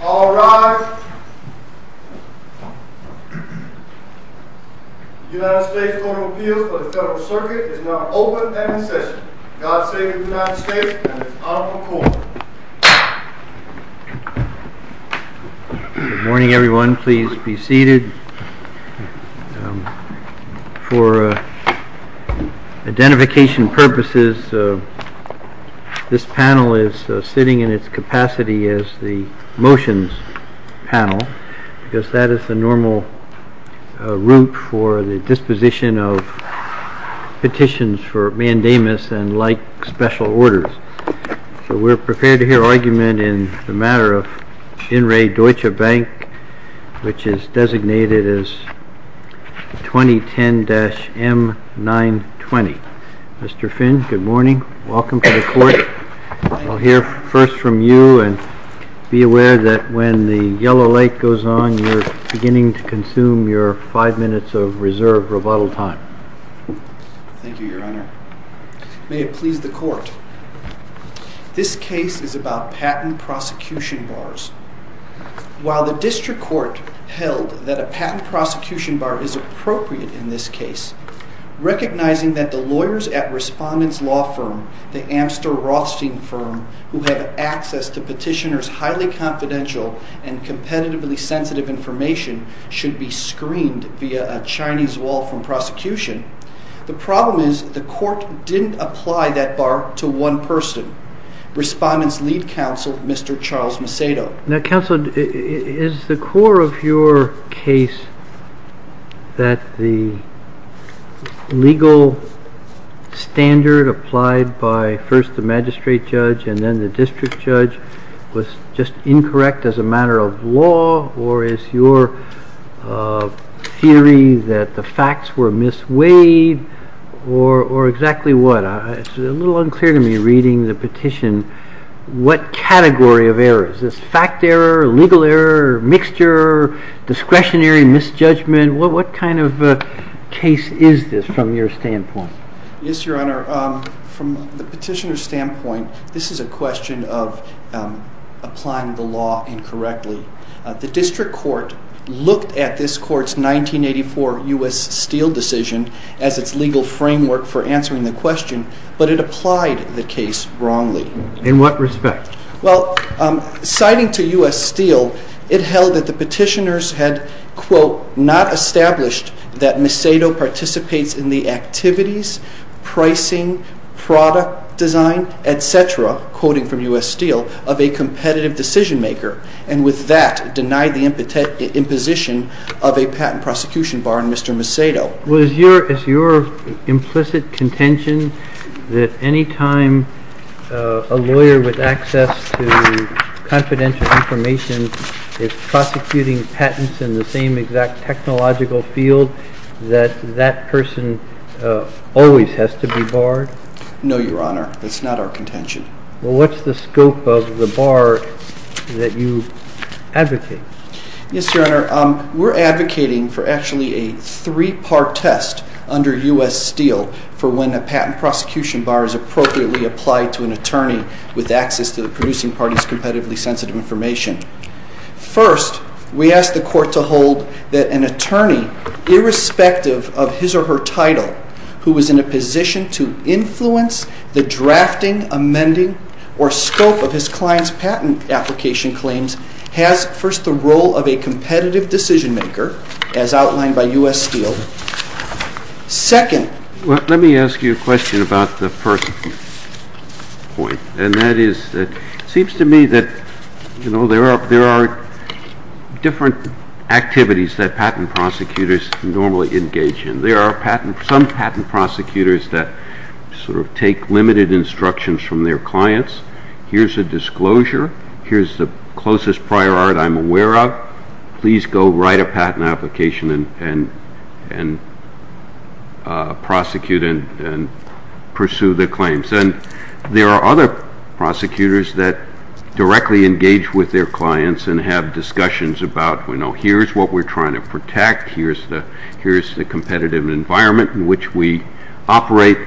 All rise. The United States Court of Appeal for the Federal Circuit is now open and in session. God save the United States and its powerful court. Good morning, everyone. Please be seated. For identification purposes, this panel is sitting in its capacity as the motions panel, because that is the normal room for the disposition of petitions for mandamus and light special orders. We're prepared to hear argument in the matter of Shinrei Deutsche Bank, which is designated as 2010-M920. Mr. Finn, good morning. Welcome to the court. I'll hear first from you, and be aware that when the yellow light goes on, you're beginning to consume your five minutes of reserved rebuttal time. Thank you, Your Honor. May it please the court. This case is about patent prosecution bars. While the district court held that a patent prosecution bar is appropriate in this case, recognizing that the lawyers at Respondent's law firm, the Amster Rothstein firm, who have access to petitioner's highly confidential and competitively sensitive information should be screened via a Chinese wall from prosecution, the problem is the court didn't apply that bar to one person. Respondent's lead counsel, Mr. Charles Macedo. Now, counsel, is the core of your case that the legal standard applied by first the magistrate judge and then the district judge was just incorrect as a matter of law, or is your theory that the facts were misweighed, or exactly what? It's a little unclear to me reading the petition. What category of errors? Is this fact error, legal error, mixture, discretionary misjudgment? What kind of case is this from your standpoint? Yes, Your Honor. From the petitioner's standpoint, this is a question of applying the law incorrectly. The district court looked at this court's 1984 U.S. Steele decision as its legal framework for answering the question, but it applied the case wrongly. In what respect? Well, citing to U.S. Steele, it held that the petitioners had, quote, not established that Macedo participates in the activities, pricing, product design, etc., quoting from U.S. Steele, of a competitive decision maker, and with that, denied the imposition of a patent prosecution bar on Mr. Macedo. Well, is your implicit contention that any time a lawyer with access to confidential information is prosecuting patents in the same exact technological field, that that person always has to be barred? No, Your Honor. That's not our contention. Well, what's the scope of the bar that you advocate? Yes, Your Honor. We're advocating for actually a three-part test under U.S. Steele for when a patent prosecution bar is appropriately applied to an attorney with access to the producing party's competitively sensitive information. First, we ask the Court to hold that an attorney, irrespective of his or her title, who is in a position to influence the drafting, amending, or scope of his client's patent application claims, has, first, the role of a competitive decision maker, as outlined by U.S. Steele. Second. Let me ask you a question about the first point, and that is, it seems to me that there are different activities that patent prosecutors normally engage in. There are some patent prosecutors that sort of take limited instructions from their clients. Here's a disclosure. Here's the closest prior art I'm aware of. Please go write a patent application and prosecute and pursue the claims. And there are other prosecutors that directly engage with their clients and have discussions about, you know, here's what we're trying to protect, here's the competitive environment in which we operate,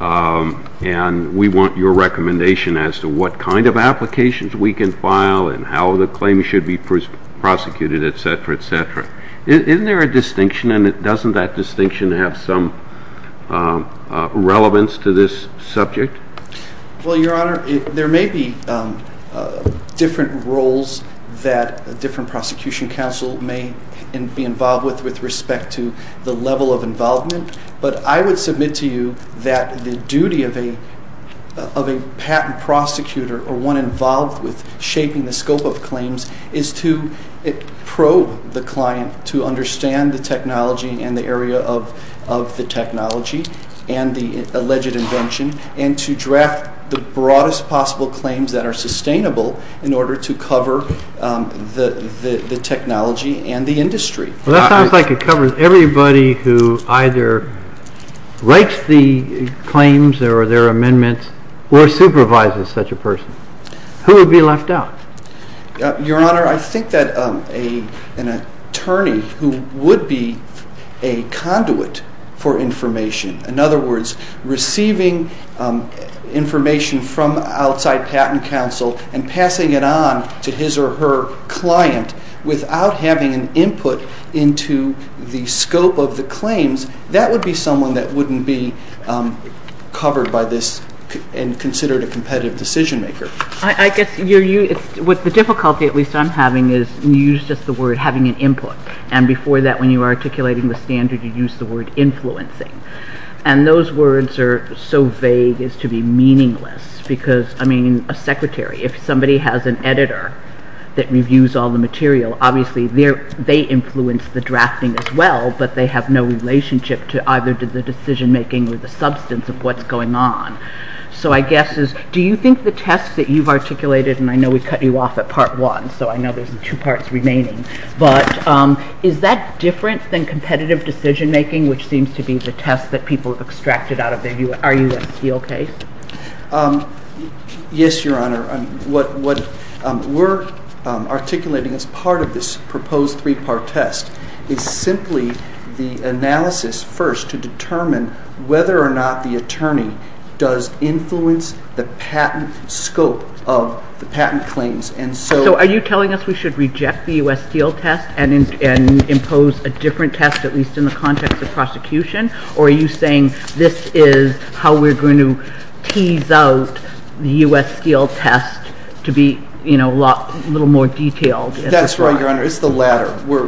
and we want your recommendation as to what kind of applications we can file and how the claims should be prosecuted, etc., etc. Isn't there a distinction, and doesn't that distinction have some relevance to this subject? Well, Your Honor, there may be different roles that a different prosecution counsel may be involved with, with respect to the level of involvement, but I would submit to you that the duty of a patent prosecutor, or one involved with shaping the scope of claims, is to probe the client to understand the technology and the area of the technology and the alleged invention and to draft the broadest possible claims that are sustainable in order to cover the technology and the industry. Well, that sounds like it covers everybody who either writes the claims or their amendments or supervises such a person. Who would be left out? Your Honor, I think that an attorney who would be a conduit for information, in other words, receiving information from outside patent counsel and passing it on to his or her client without having input into the scope of the claims, that would be someone that wouldn't be covered by this and considered a competitive decision maker. I guess what the difficulty, at least I'm having, is you used just the word having an input, and before that when you were articulating the standard you used the word influencing. And those words are so vague as to be meaningless, because, I mean, a secretary, if somebody has an editor that reviews all the material, obviously they influence the drafting as well, but they have no relationship to either the decision making or the substance of what's going on. So I guess is, do you think the test that you've articulated, and I know we've cut you off at part one, so I know there's two parts remaining, but is that different than competitive decision making, which seems to be the test that people have extracted out of the USTOK? Yes, Your Honor. What we're articulating as part of this proposed three-part test is simply the analysis first to determine whether or not the attorney does influence the patent scope of the patent claims. So are you telling us we should reject the U.S. Steel test and impose a different test, at least in the context of prosecution, or are you saying this is how we're going to tease out the U.S. Steel test to be a little more detailed? That's right, Your Honor. It's the latter. We're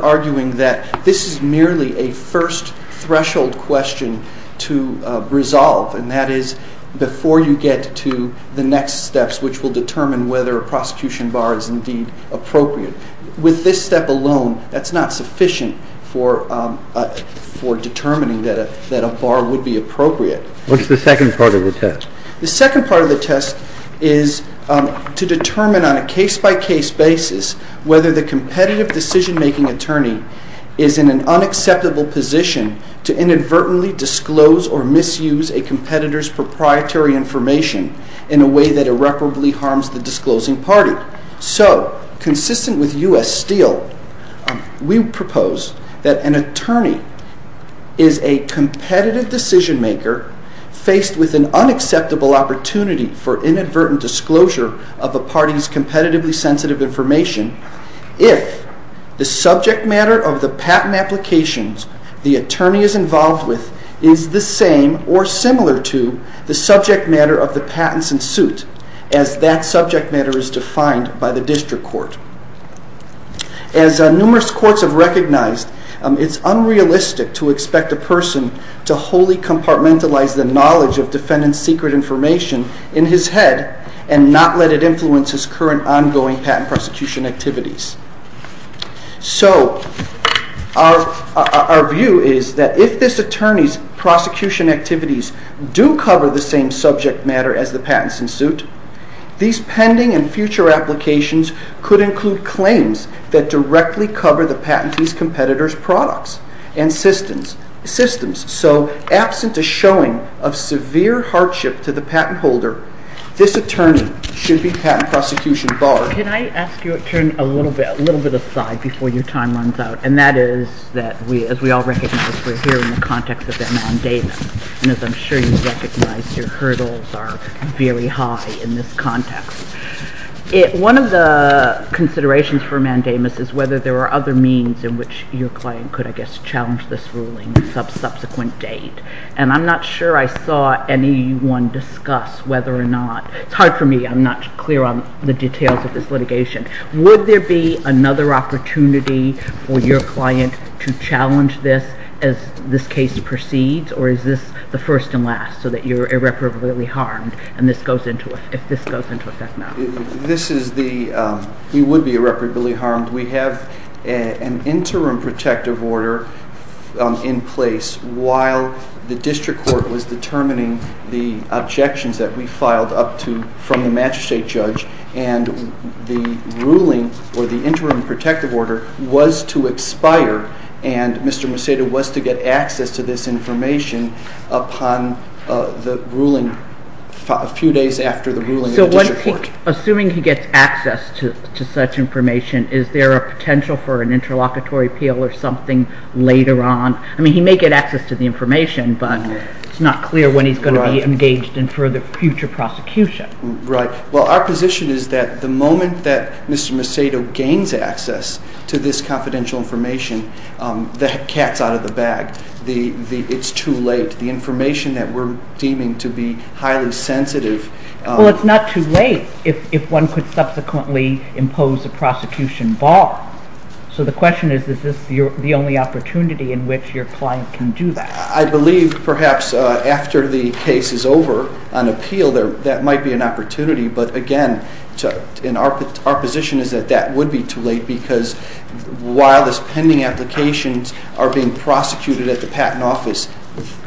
arguing that this is merely a first threshold question to resolve, and that is before you get to the next steps, which will determine whether a prosecution bar is indeed appropriate. With this step alone, that's not sufficient for determining that a bar would be appropriate. What's the second part of the test? The second part of the test is to determine on a case-by-case basis whether the competitive decision-making attorney is in an unacceptable position to inadvertently disclose or misuse a competitor's proprietary information in a way that irreparably harms the disclosing party. So, consistent with U.S. Steel, we propose that an attorney is a competitive decision-maker faced with an unacceptable opportunity for inadvertent disclosure of a party's competitively sensitive information if the subject matter of the patent applications the attorney is involved with is the same or similar to the subject matter of the patents in suit, as that subject matter is defined by the district court. As numerous courts have recognized, it's unrealistic to expect a person to wholly compartmentalize the knowledge of defendant's secret information in his head and not let it influence his current ongoing patent prosecution activities. So, our view is that if this attorney's prosecution activities do cover the same subject matter as the patents in suit, these pending and future applications could include claims that directly cover the patent's competitor's products and systems. So, absent a showing of severe hardship to the patent holder, this attorney should be patent prosecution barred. Can I ask you to turn a little bit aside before your time runs out? And that is that, as we all recognize, we're here in the context of a mandamus. And as I'm sure you recognize, your hurdles are very high in this context. One of the considerations for a mandamus is whether there are other means in which your client could, I guess, challenge this ruling at a subsequent date. And I'm not sure I saw anyone discuss whether or not – it's hard for me, I'm not clear on the details of this litigation. Would there be another opportunity for your client to challenge this as this case proceeds? Or is this the first and last, so that you're irreparably harmed if this goes into effect now? He would be irreparably harmed. We have an interim protective order in place while the district court was determining the objections that we filed up to – from the magistrate judge. And the ruling, or the interim protective order, was to expire. And Mr. Museda was to get access to this information upon the ruling, two days after the ruling. So assuming he gets access to such information, is there a potential for an interlocutory appeal or something later on? I mean, he may get access to the information, but it's not clear when he's going to be engaged in further future prosecution. Right. Well, our position is that the moment that Mr. Museda gains access to this confidential information, the cat's out of the bag. It's too late. The information that we're deeming to be highly sensitive – Well, it's not too late if one could subsequently impose a prosecution bar. So the question is, is this the only opportunity in which your client can do that? I believe, perhaps, after the case is over on appeal, that might be an opportunity. But again, our position is that that would be too late, because while these pending applications are being prosecuted at the Patent Office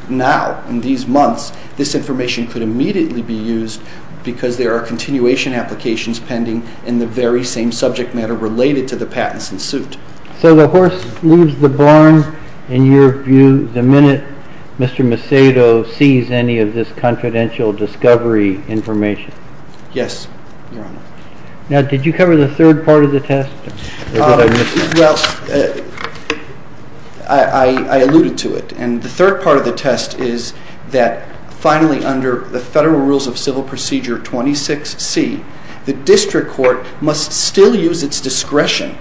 now, in these months, this information could immediately be used, because there are continuation applications pending in the very same subject matter related to the patents in suit. So the horse leaves the barn, in your view, the minute Mr. Museda sees any of this confidential discovery information? Yes. Now, did you cover the third part of the test? Yes, I alluded to it. And the third part of the test is that, finally, under the Federal Rules of Civil Procedure 26C, the district court must still use its discretion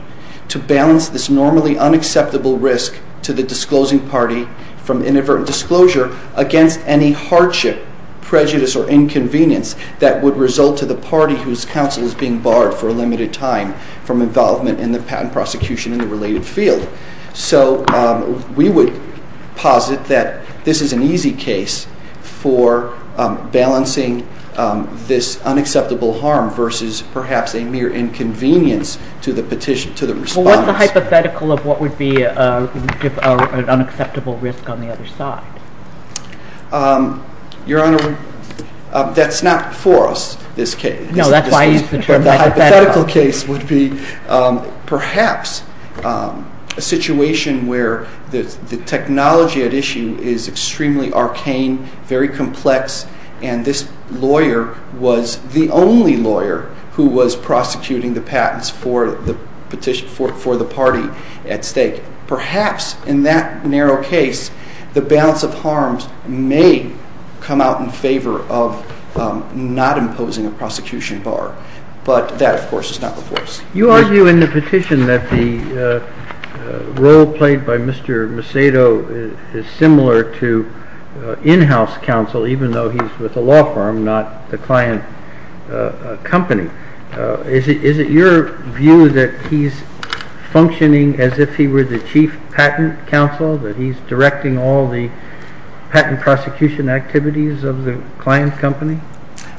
to balance this normally unacceptable risk to the disclosing party from inadvertent disclosure against any hardship, prejudice, or inconvenience that would result to the party whose counsel is being barred for a limited time from involvement in the patent prosecution in the related field. So we would posit that this is an easy case for balancing this unacceptable harm versus, perhaps, a mere inconvenience to the respondent. What's the hypothetical of what would be an unacceptable risk on the other side? Your Honor, that's not for us, this case. No, that's why I used the term hypothetical. The hypothetical case would be, perhaps, a situation where the technology at issue is extremely arcane, very complex, and this lawyer was the only lawyer who was prosecuting the patents for the party at stake. Perhaps, in that narrow case, the balance of harms may come out in favor of not imposing a prosecution bar. But that, of course, is not the case. You argue in the petition that the role played by Mr. Macedo is similar to in-house counsel, even though he's with the law firm, not the client company. Is it your view that he's functioning as if he were the chief patent counsel, that he's directing all the patent prosecution activities of the client company?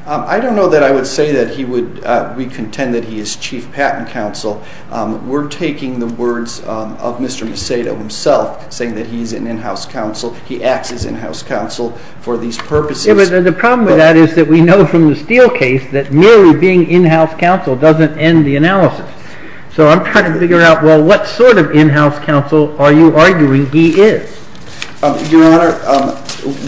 I don't know that I would say that we contend that he is chief patent counsel. We're taking the words of Mr. Macedo himself, saying that he's an in-house counsel. He acts as in-house counsel for these purposes. The problem with that is that we know from the Steele case that merely being in-house counsel doesn't end the analysis. So I'm trying to figure out, well, what sort of in-house counsel are you arguing he is? Your Honor,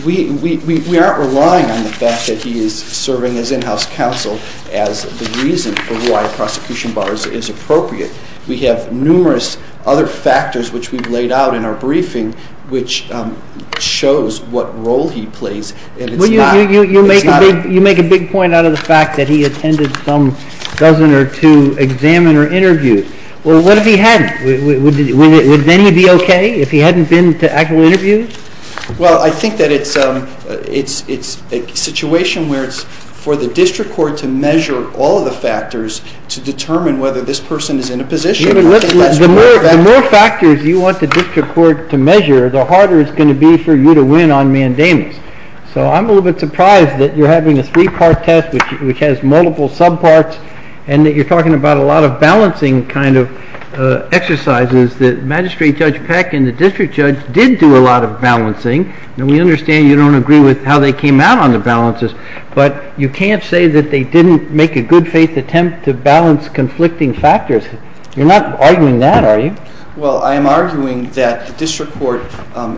we aren't relying on the fact that he is serving as in-house counsel as the reason for why a prosecution bar is appropriate. We have numerous other factors which we've laid out in our briefing which shows what role he plays. You make a big point out of the fact that he attended some dozen or two examiner interviews. Well, what if he hadn't? Would then he be okay if he hadn't been to actual interviews? Well, I think that it's a situation where it's for the district court to measure all the factors to determine whether this person is in a position. The more factors you want the district court to measure, the harder it's going to be for you to win on mandamus. So I'm a little bit surprised that you're having a three-part test which has multiple subparts and that you're talking about a lot of balancing kind of exercises that Magistrate Judge Peck and the district judge did do a lot of balancing, and we understand you don't agree with how they came out on the balances, but you can't say that they didn't make a good faith attempt to balance conflicting factors. You're not arguing that, are you? Well, I'm arguing that the district court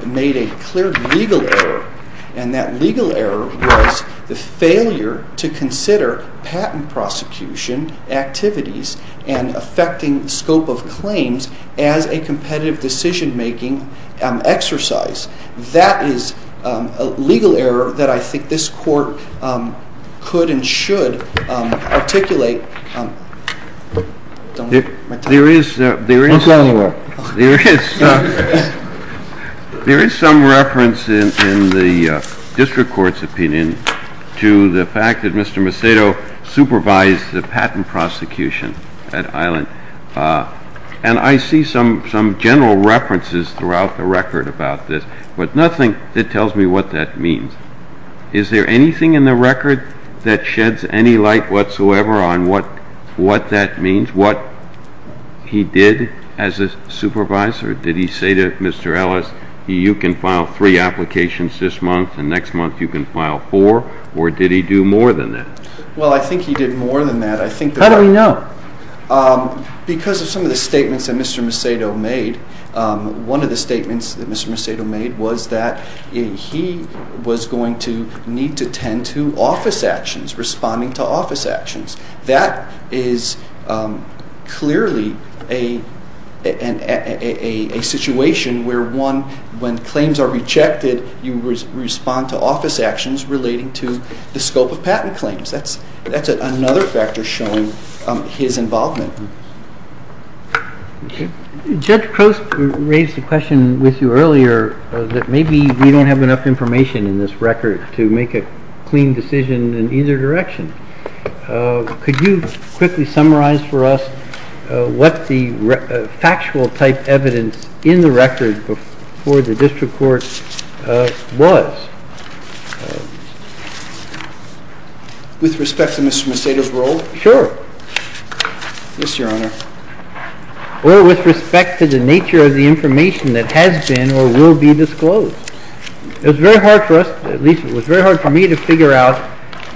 made a clear legal error, and that legal error was the failure to consider patent prosecution activities and affecting scope of claims as a competitive decision-making exercise. That is a legal error that I think this court could and should articulate. There is some reference in the district court's opinion to the fact that Mr. Macedo supervised the patent prosecution at Island, and I see some general references throughout the record about this, but nothing that tells me what that means. Is there anything in the record that sheds any light whatsoever on what that means, what he did as a supervisor? Did he say to Mr. Ellis, you can file three applications this month, and next month you can file four, or did he do more than that? Well, I think he did more than that. How do we know? Because of some of the statements that Mr. Macedo made, one of the statements that Mr. Macedo made was that he was going to need to tend to office actions, responding to office actions. That is clearly a situation where, one, when claims are rejected, you respond to office actions relating to the scope of patent claims. That's another factor showing his involvement. Judge Croce raised a question with you earlier that maybe we don't have enough information in this record to make a clean decision in either direction. Could you quickly summarize for us what the factual type evidence in the record for the district court was? With respect to Mr. Macedo's role? Sure. Yes, Your Honor. Well, with respect to the nature of the information that has been or will be disclosed. It was very hard for us, at least it was very hard for me, to figure out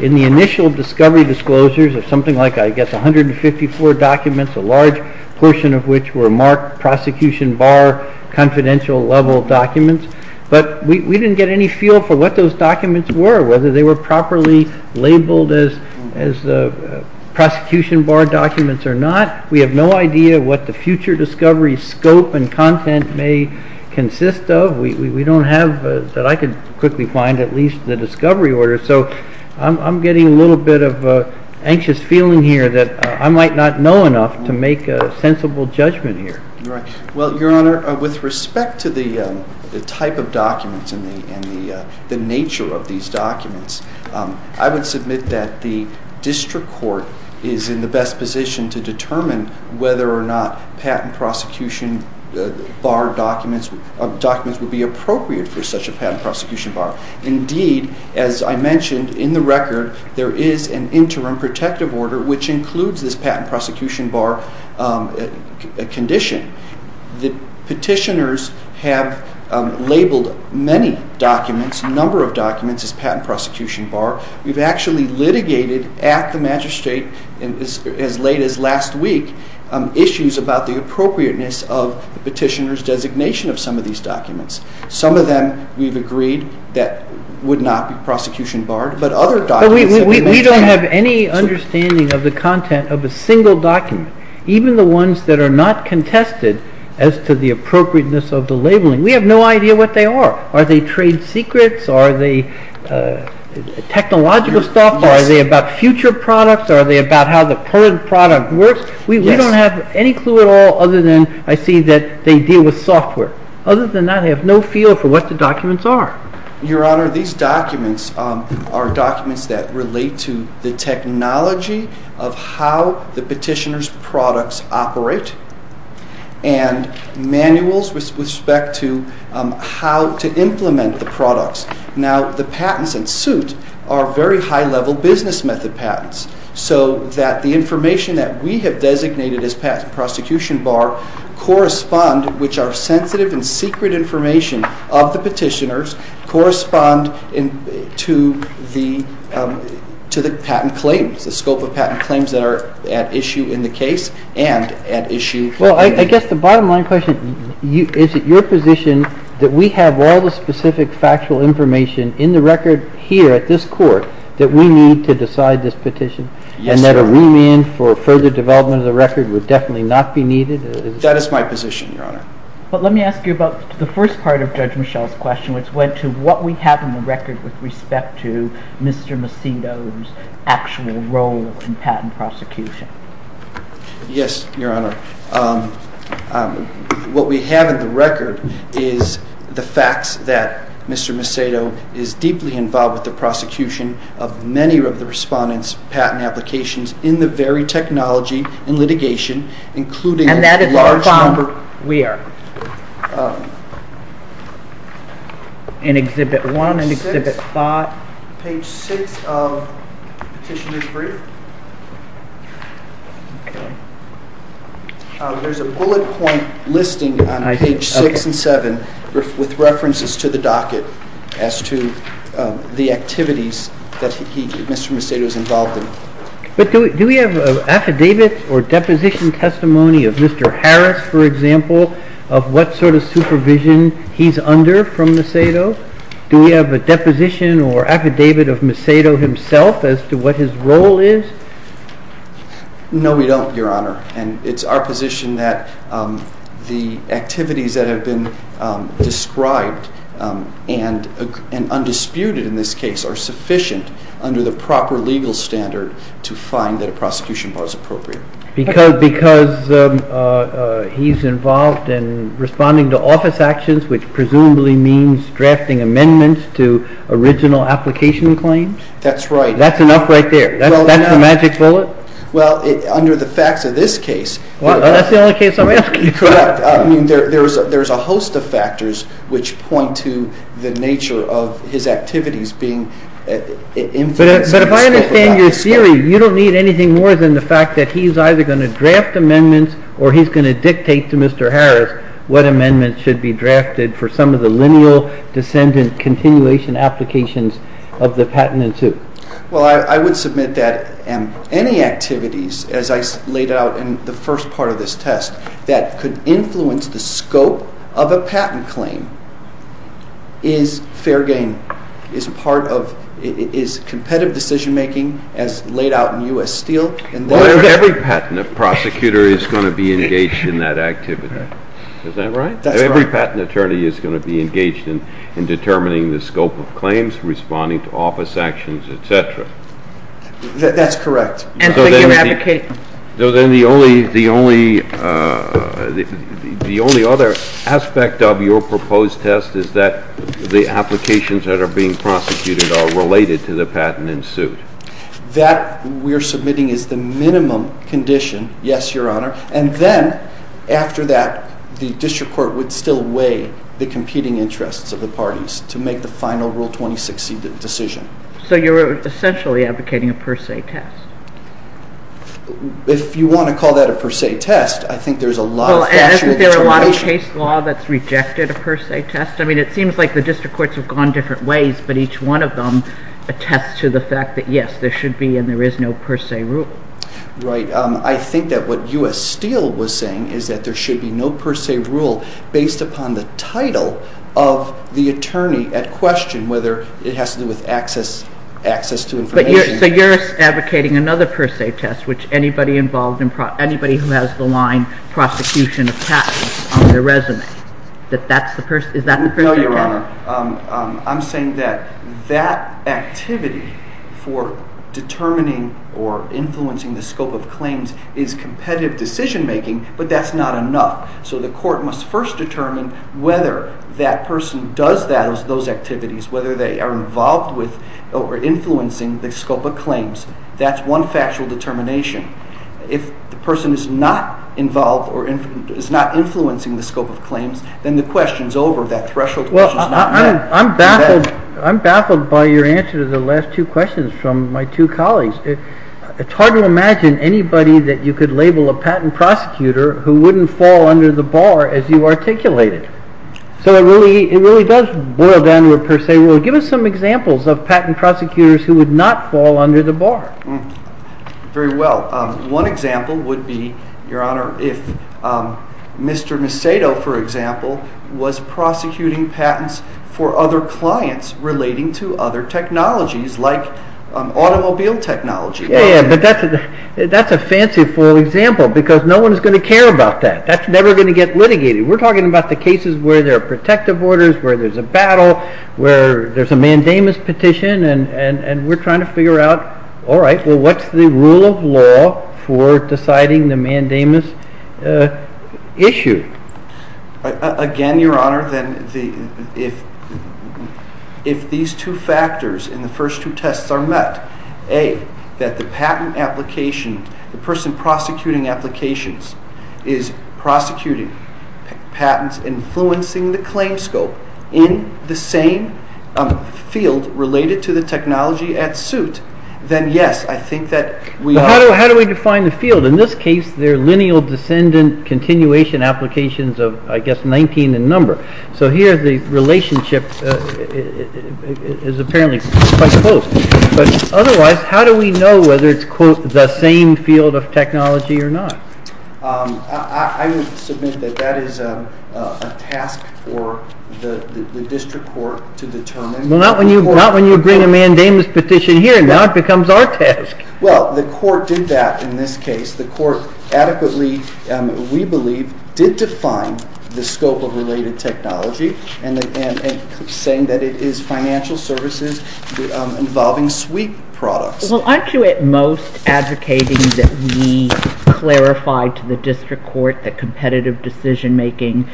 in the initial discovery disclosures of something like, I guess, 154 documents, a large portion of which were marked prosecution bar confidential level documents, but we didn't get any feel for what those documents were, whether they were properly labeled as prosecution bar documents or not. We have no idea what the future discovery scope and content may consist of. We don't have, that I could quickly find, at least the discovery order. So I'm getting a little bit of an anxious feeling here that I might not know enough to make a sensible judgment here. Well, Your Honor, with respect to the type of documents and the nature of these documents, I would submit that the district court is in the best position to determine whether or not patent prosecution bar documents would be appropriate for such a patent prosecution bar. Indeed, as I mentioned, in the record, there is an interim protective order which includes this patent prosecution bar condition. The petitioners have labeled many documents, a number of documents, as patent prosecution bar. We've actually litigated at the magistrate as late as last week, issues about the appropriateness of the petitioner's designation of some of these documents. Some of them we've agreed that would not be prosecution bar, but other documents... We don't have any understanding of the content of a single document, even the ones that are not contested as to the appropriateness of the labeling. We have no idea what they are. Are they trade secrets? Are they technological stuff? Are they about future products? Are they about how the current product works? We don't have any clue at all other than I see that they deal with software. Other than that, I have no feel for what the documents are. Your Honor, these documents are documents that relate to the technology of how the petitioner's products operate and manuals with respect to how to implement the products. Now, the patents in suit are very high-level business method patents so that the information that we have designated as patent prosecution bar correspond, which are sensitive and secret information of the petitioners, correspond to the patent claims, the scope of patent claims that are at issue in the case and at issue... Well, I guess the bottom line question, is it your position that we have all the specific factual information in the record here at this court that we need to decide this petition? Yes, Your Honor. And that a rule-in for further development of the record would definitely not be needed? That is my position, Your Honor. But let me ask you about the first part of Judge Michel's question, which went to what we have in the record with respect to Mr. Macedo's actual role in patent prosecution. Yes, Your Honor. What we have in the record is the fact that Mr. Macedo is deeply involved with the prosecution of many of the respondents' patent applications in the very technology and litigation, including... And that is a large number. We are. In Exhibit 1 and Exhibit 5. Page 6 of Petitioner's Brief. There's a bullet point listing on page 6 and 7 with references to the docket as to the activities that Mr. Macedo is involved in. Do we have an affidavit or deposition testimony of Mr. Harris, for example, of what sort of supervision he's under from Macedo? Do we have a deposition or affidavit of Macedo himself as to what his role is? No, we don't, Your Honor. And it's our position that the activities that have been described and undisputed in this case are sufficient under the proper legal standard to find that a prosecution was appropriate. Because he's involved in responding to office actions, which presumably means drafting amendments to original application claims? That's right. That's enough right there? That's the magic bullet? Well, under the facts of this case... Well, that's the only case I'm asking. There's a host of factors which point to the nature of his activities being... But if I understand your theory, you don't need anything more than the fact that he's either going to draft amendments or he's going to dictate to Mr. Harris what amendments should be drafted for some of the lineal descendant continuation applications of the patent in two. Well, I would submit that any activities, as I laid out in the first part of this test, that could influence the scope of a patent claim is fair game, is competitive decision-making as laid out in U.S. Steel. Every patent prosecutor is going to be engaged in that activity. Is that right? That's right. Every patent attorney is going to be engaged in determining the scope of claims, responding to office actions, et cetera. That's correct. So then the only other aspect of your proposed test is that the applications that are being prosecuted are related to the patent in suit. That we're submitting is the minimum condition, yes, Your Honor, and then after that the district court would still weigh the competing interests of the parties to make the final Rule 2060 decision. So you're essentially advocating a per se test. If you want to call that a per se test, I think there's a lot of tension. Well, isn't there a lot of case law that's rejected a per se test? I mean, it seems like the district courts have gone different ways, but each one of them attests to the fact that, yes, there should be and there is no per se rule. Right. I think that what U.S. Steel was saying is that there should be no per se rule based upon the title of the attorney at question, whether it has to do with access to information. But you're advocating another per se test, which anybody who has the line prosecution of patents on their residence, is that the per se test? No, Your Honor. I'm saying that that activity for determining or influencing the scope of claims is competitive decision-making, but that's not enough. So the court must first determine whether that person does those activities, whether they are involved with or influencing the scope of claims. That's one factual determination. If the person is not involved or is not influencing the scope of claims, then the question is over. That threshold is not met. Well, I'm baffled by your answer to the last two questions from my two colleagues. It's hard to imagine anybody that you could label a patent prosecutor who wouldn't fall under the bar as you articulated. So it really does boil down to a per se rule. Give us some examples of patent prosecutors who would not fall under the bar. Very well. One example would be, Your Honor, if Mr. Macedo, for example, was prosecuting patents for other clients relating to other technologies, like automobile technology. Yeah, yeah, but that's a fancy example because no one is going to care about that. That's never going to get litigated. We're talking about the cases where there are protective orders, where there's a battle, where there's a mandamus petition, and we're trying to figure out, all right, well what's the rule of law for deciding the mandamus issue? Again, Your Honor, if these two factors in the first two tests are met, A, that the person prosecuting applications is prosecuting patents influencing the claim scope in the same field related to the technology at suit, then yes, I think that we are. So how do we define the field? In this case, they're lineal descendant continuation applications of, I guess, 19 in number. So here the relationship is apparently quite close. But otherwise, how do we know whether it's the same field of technology or not? I would submit that that is a task for the district court to determine. Well, not when you bring a mandamus petition here. Now it becomes our task. Well, the court did that in this case. The court adequately, we believe, did define the scope of related technology and saying that it is financial services involving suite products. Well, aren't you at most advocating that we clarify to the district court that competitive decision-making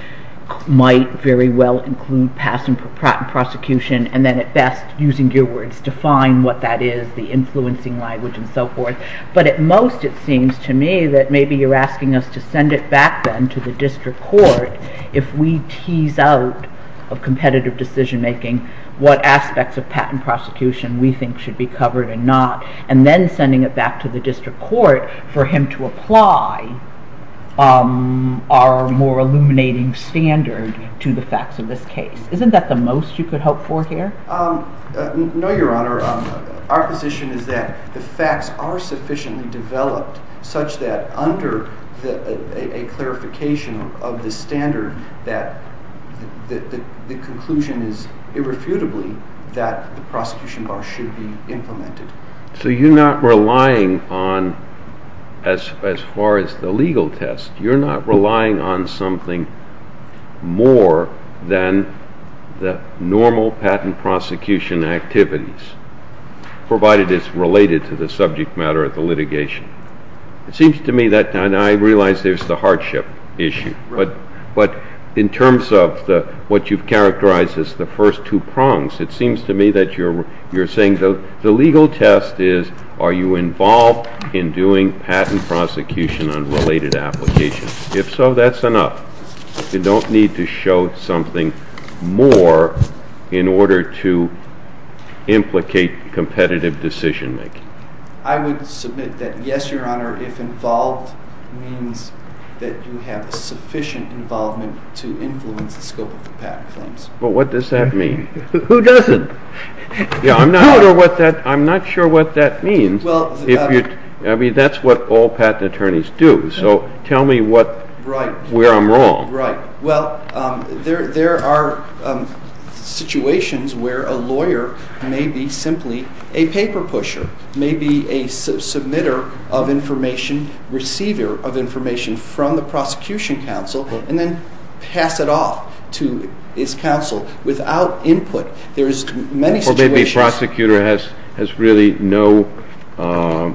might very well include passing prosecution and then at best using your words to define what that is, the influencing language and so forth. But at most it seems to me that maybe you're asking us to send it back then to the district court if we tease out of competitive decision-making what aspects of patent prosecution we think should be covered and not, and then sending it back to the district court for him to apply our more illuminating standard to the facts of this case. Isn't that the most you could hope for here? No, Your Honor. Our position is that the facts are sufficiently developed such that under a clarification of the standard that the conclusion is irrefutably that the prosecution bar should be implemented. So you're not relying on, as far as the legal test, you're not relying on something more than the normal patent prosecution activities, provided it's related to the subject matter of the litigation. It seems to me that, and I realize there's the hardship issue, but in terms of what you've characterized as the first two prongs, it seems to me that you're saying the legal test is Are you involved in doing patent prosecution on related applications? If so, that's enough. You don't need to show something more in order to implicate competitive decision-making. I would submit that yes, Your Honor, if involved, it means that you have sufficient involvement to influence the scope of the patent claims. But what does that mean? Who doesn't? I'm not sure what that means. I mean, that's what all patent attorneys do. So tell me where I'm wrong. Well, there are situations where a lawyer may be simply a paper pusher, may be a submitter of information, receiver of information from the prosecution counsel, and then pass it off to his counsel without input. Well, maybe the prosecutor has really no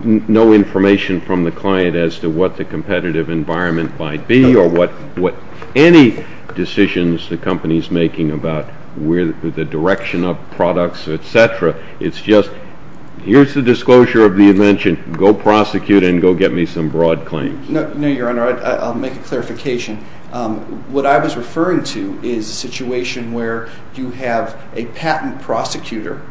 information from the client as to what the competitive environment might be or what any decisions the company's making about the direction of products, et cetera. It's just, here's the disclosure of the invention. Go prosecute and go get me some broad claims. No, Your Honor, I'll make a clarification. What I was referring to is a situation where you have a patent prosecutor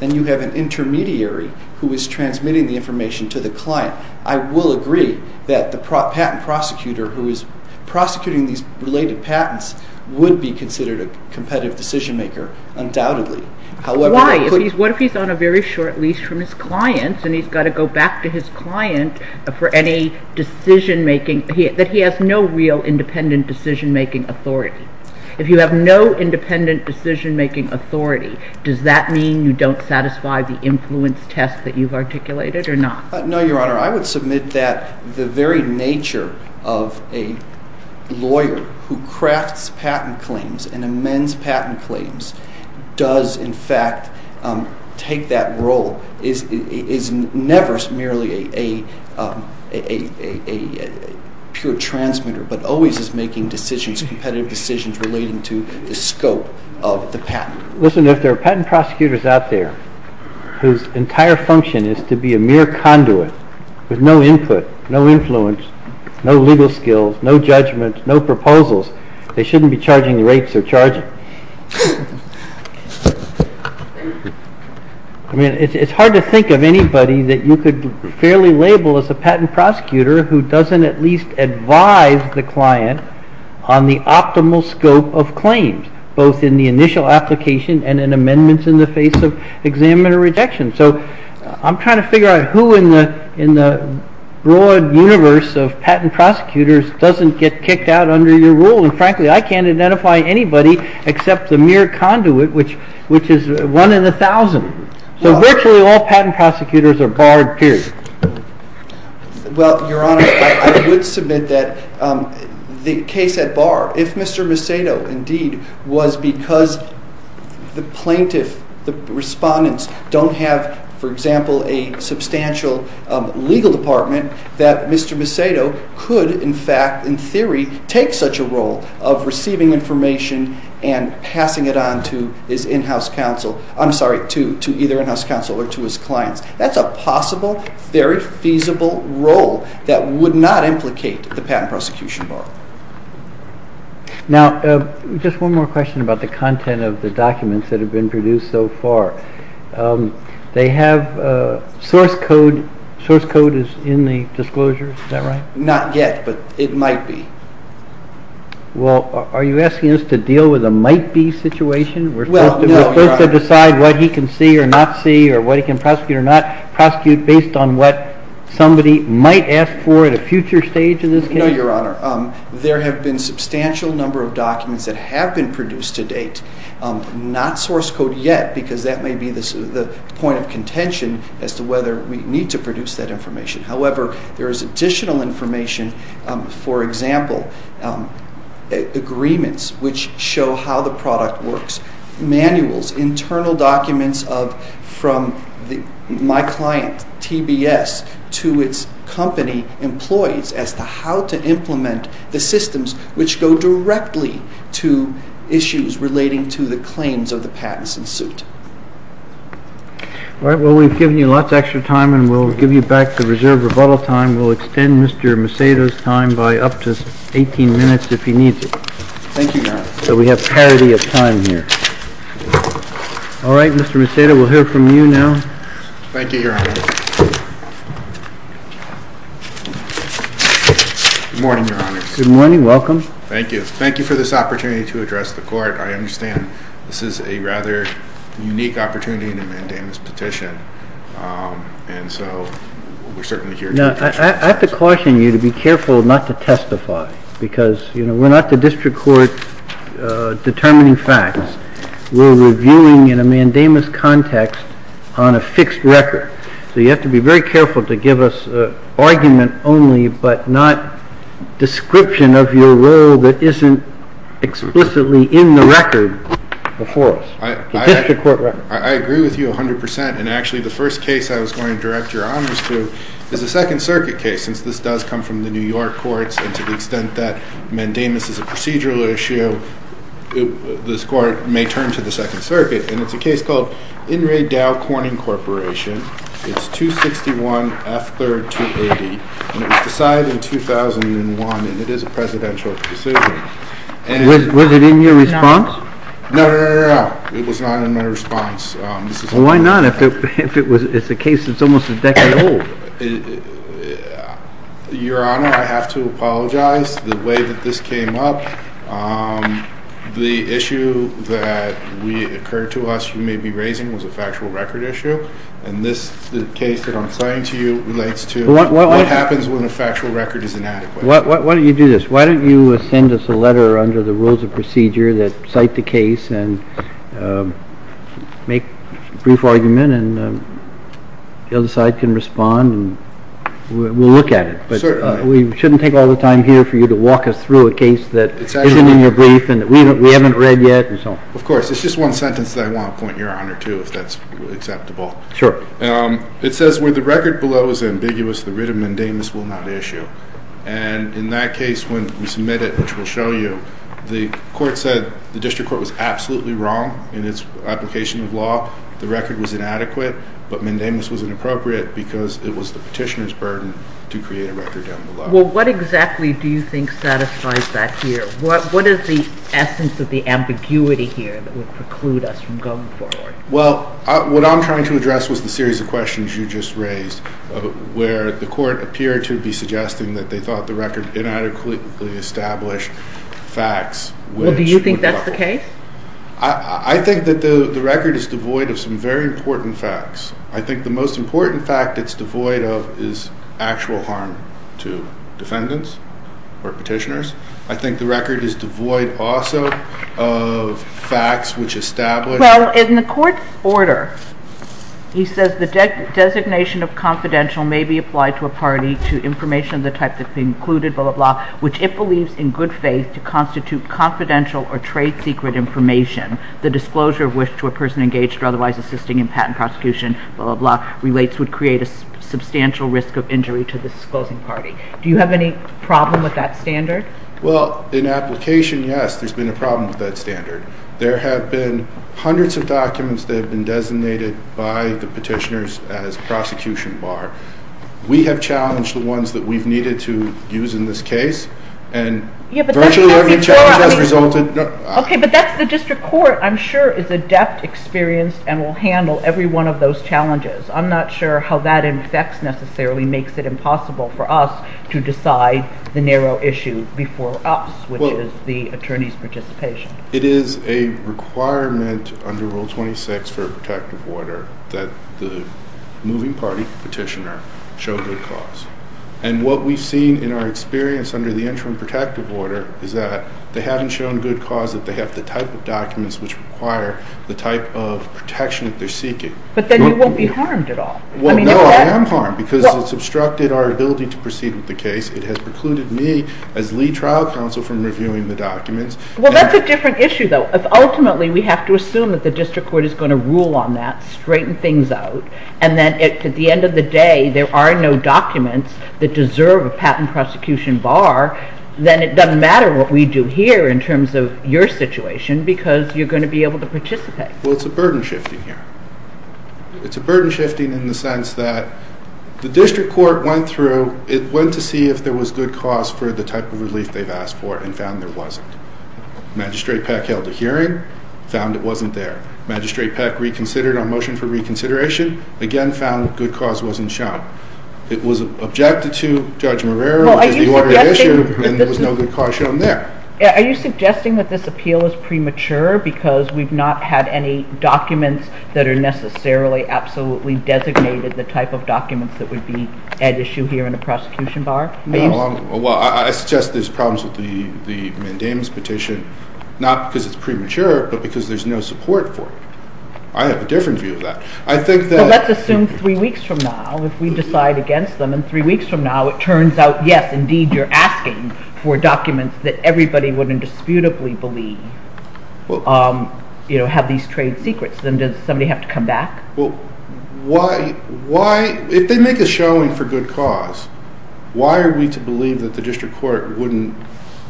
and you have an intermediary who is transmitting the information to the client. I will agree that the patent prosecutor who is prosecuting these related patents would be considered a competitive decision-maker, undoubtedly. Why? What if he's on a very short lease from his clients and he's got to go back to his client for any decision-making, that he has no real independent decision-making authority? If you have no independent decision-making authority, does that mean you don't satisfy the influence test that you've articulated or not? No, Your Honor, I would submit that the very nature of a lawyer who crafts patent claims and amends patent claims does, in fact, take that role. It's never merely a pure transmitter, but always is making decisions, competitive decisions, relating to the scope of the patent. Listen, if there are patent prosecutors out there whose entire function is to be a mere conduit with no input, no influence, no legal skills, no judgments, no proposals, they shouldn't be charging rates or charges. It's hard to think of anybody that you could fairly label as a patent prosecutor who doesn't at least advise the client on the optimal scope of claims, both in the initial application and in amendments in the face of examiner rejection. I'm trying to figure out who in the broad universe of patent prosecutors doesn't get kicked out under your rule, and frankly, I can't identify anybody except the mere conduit, which is one in a thousand. So virtually all patent prosecutors are barred, period. Well, Your Honor, I would submit that the case at bar, if Mr. Macedo indeed was because the plaintiff, the respondents, don't have, for example, a substantial legal department, that Mr. Macedo could, in fact, in theory, take such a role of receiving information and passing it on to his in-house counsel. I'm sorry, to either in-house counsel or to his client. That's a possible, very feasible role that would not implicate the patent prosecution bar. Now, just one more question about the content of the documents that have been produced so far. They have source code. Source code is in the disclosure, is that right? Not yet, but it might be. Well, are you asking us to deal with a might-be situation? We're supposed to decide what he can see or not see or what he can prosecute or not prosecute based on what somebody might ask for at a future stage in this case? No, Your Honor. There have been a substantial number of documents that have been produced to date. Not source code yet, because that may be the point of contention as to whether we need to produce that information. However, there is additional information, for example, agreements which show how the product works, manuals, internal documents from my client, TBS, to its company employees as to how to implement the systems which go directly to issues relating to the claims of the patents in suit. Well, we've given you lots of extra time, and we'll give you back the reserve rebuttal time. We'll extend Mr. Macedo's time by up to 18 minutes if you need it. Thank you, Your Honor. So we have parity of time here. All right, Mr. Macedo, we'll hear from you now. Thank you, Your Honor. Good morning, Your Honor. Good morning. Welcome. Thank you. Thank you for this opportunity to address the court. I understand this is a rather unique opportunity in a mandamus petition, and so we're certainly here to— Now, I have to caution you to be careful not to testify, because we're not the district court determining facts. We're reviewing in a mandamus context on a fixed record. So you have to be very careful to give us argument only, but not description of your role that isn't explicitly in the record before us. I agree with you 100 percent, and actually the first case I was going to direct your honors to is a Second Circuit case, since this does come from the New York courts, and to the extent that mandamus is a procedural issue, this court may turn to the Second Circuit, and it's a case called Inmate Dow Corning Corporation. It's 261 F. 3rd 280, and it was decided in 2001, and it is a presidential decision. Was it in your response? No, no, no, no, no. It was not in my response. Well, why not? It's a case that's almost a decade old. Your Honor, I have to apologize. The way that this came up, the issue that occurred to us you may be raising was a factual record issue, and this case that I'm citing to you relates to what happens when a factual record is inadequate. Why don't you do this? under the rules of procedure that cite the case and make a brief argument, and the other side can respond, and we'll look at it. But we shouldn't take all the time here for you to walk us through a case that isn't in your brief and that we haven't read yet. Of course. It's just one sentence that I want to point your honor to, if that's acceptable. It says, when the record below is ambiguous, the writ of mandamus will not issue. And in that case, when we submit it, which we'll show you, the court said the district court was absolutely wrong in its application of law. The record was inadequate, but mandamus was inappropriate because it was the petitioner's burden to create a record down below. Well, what exactly do you think satisfies that here? What is the essence of the ambiguity here that would preclude us from going forward? Well, what I'm trying to address was the series of questions you just raised, where the court appeared to be suggesting that they thought the record inadequately established facts. Well, do you think that's the case? I think that the record is devoid of some very important facts. I think the most important fact it's devoid of is actual harm to defendants or petitioners. I think the record is devoid also of facts which establish Well, in the court's order, he says the designation of confidential may be applied to a party to information of the type that's been included, blah, blah, blah, which it believes in good faith to constitute confidential or trade secret information. The disclosure of which to a person engaged or otherwise assisting in patent prosecution, blah, blah, blah, relates would create a substantial risk of injury to the supposing party. Do you have any problem with that standard? Well, in application, yes, there's been a problem with that standard. There have been hundreds of documents that have been designated by the petitioners as prosecution bar. We have challenged the ones that we've needed to use in this case, and virtually every challenge has resulted in Okay, but that's the district court, I'm sure, is adept, experienced, and will handle every one of those challenges. I'm not sure how that in effect necessarily makes it impossible for us to decide the narrow issue before us, which is the attorney's participation. It is a requirement under Rule 26 for protective order that the moving party petitioner show good cause. And what we've seen in our experience under the interim protective order is that they haven't shown good cause if they have the type of documents which require the type of protection that they're seeking. But then you won't be harmed at all. Well, no, I am harmed because it's obstructed our ability to proceed with the case. It has precluded me as lead trial counsel from reviewing the documents. Well, that's a different issue, though. Ultimately, we have to assume that the district court is going to rule on that, straighten things out, and then at the end of the day, there are no documents that deserve a patent prosecution bar. Then it doesn't matter what we do here in terms of your situation because you're going to be able to participate. Well, it's a burden shifting here. It's a burden shifting in the sense that the district court went through. It went to see if there was good cause for the type of relief they've asked for and found there wasn't. Magistrate Peck held a hearing, found it wasn't there. Magistrate Peck reconsidered our motion for reconsideration, again found good cause wasn't shown. It was objected to, Judge Marrero, and there was no good cause shown there. Are you suggesting that this appeal is premature because we've not had any documents that are necessarily absolutely designated the type of documents that would be at issue here in the prosecution bar? Well, I suggest there's problems with the mandamus petition, not because it's premature, but because there's no support for it. I have a different view of that. Well, let's assume three weeks from now, if we decide against them, it turns out, yes, indeed, you're asking for documents that everybody would indisputably believe have these trade secrets. Then does somebody have to come back? Well, if they make a showing for good cause, why are we to believe that the district court wouldn't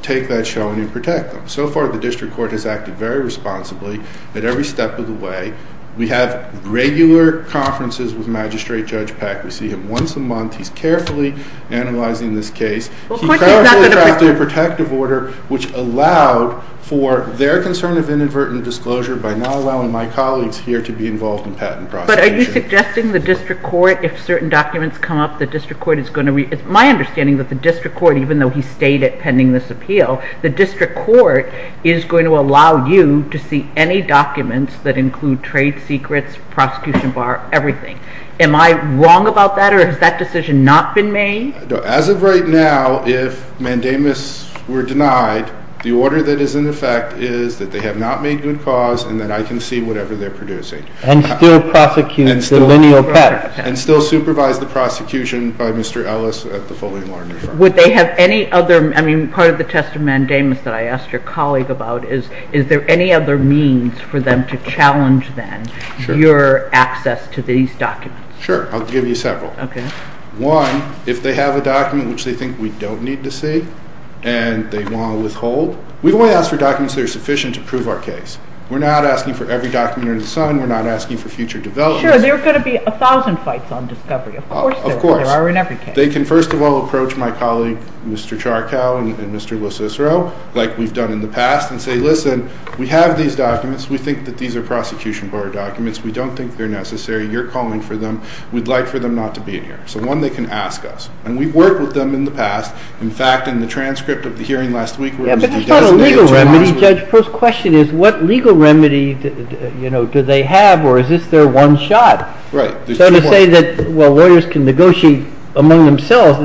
take that showing and protect them? So far, the district court has acted very responsibly at every step of the way. We have regular conferences with Magistrate Judge Pak. We see him once a month. He's carefully analyzing this case. He carefully adopted a protective order, which allowed for their concern of inadvertent disclosure by not allowing my colleagues here to be involved in patent prosecution. But are you suggesting the district court, if certain documents come up, the district court is going to read them? It's my understanding that the district court, even though he stayed at pending this appeal, the district court is going to allow you to see any documents that include trade secrets, prosecution bar, everything. Am I wrong about that, or has that decision not been made? As of right now, if Mandamus were denied, the order that is in effect is that they have not made good cause, and that I can see whatever they're producing. And still prosecute the lineal pet. And still supervise the prosecution by Mr. Ellis at the Foley Law. Would they have any other, I mean, part of the test of Mandamus that I asked your colleague about, is there any other means for them to challenge then your access to these documents? Sure, I'll give you several. One, if they have a document which they think we don't need to see, and they want to withhold, we don't want to ask for documents that are sufficient to prove our case. We're not asking for every document in the sun. We're not asking for future development. Sure, there are going to be a thousand fights on discovery. Of course there are, in every case. They can, first of all, approach my colleague, Mr. Charcow, and Mr. LoCicero, like we've done in the past, and say, listen, we have these documents. We think that these are prosecution board documents. We don't think they're necessary. You're calling for them. We'd like for them not to be here. So one, they can ask us. And we've worked with them in the past. In fact, in the transcript of the hearing last week, we're going to be doing this. But the legal remedy, Judge, first question is, what legal remedy do they have, or is this their one shot? Right. So to say that lawyers can negotiate among themselves,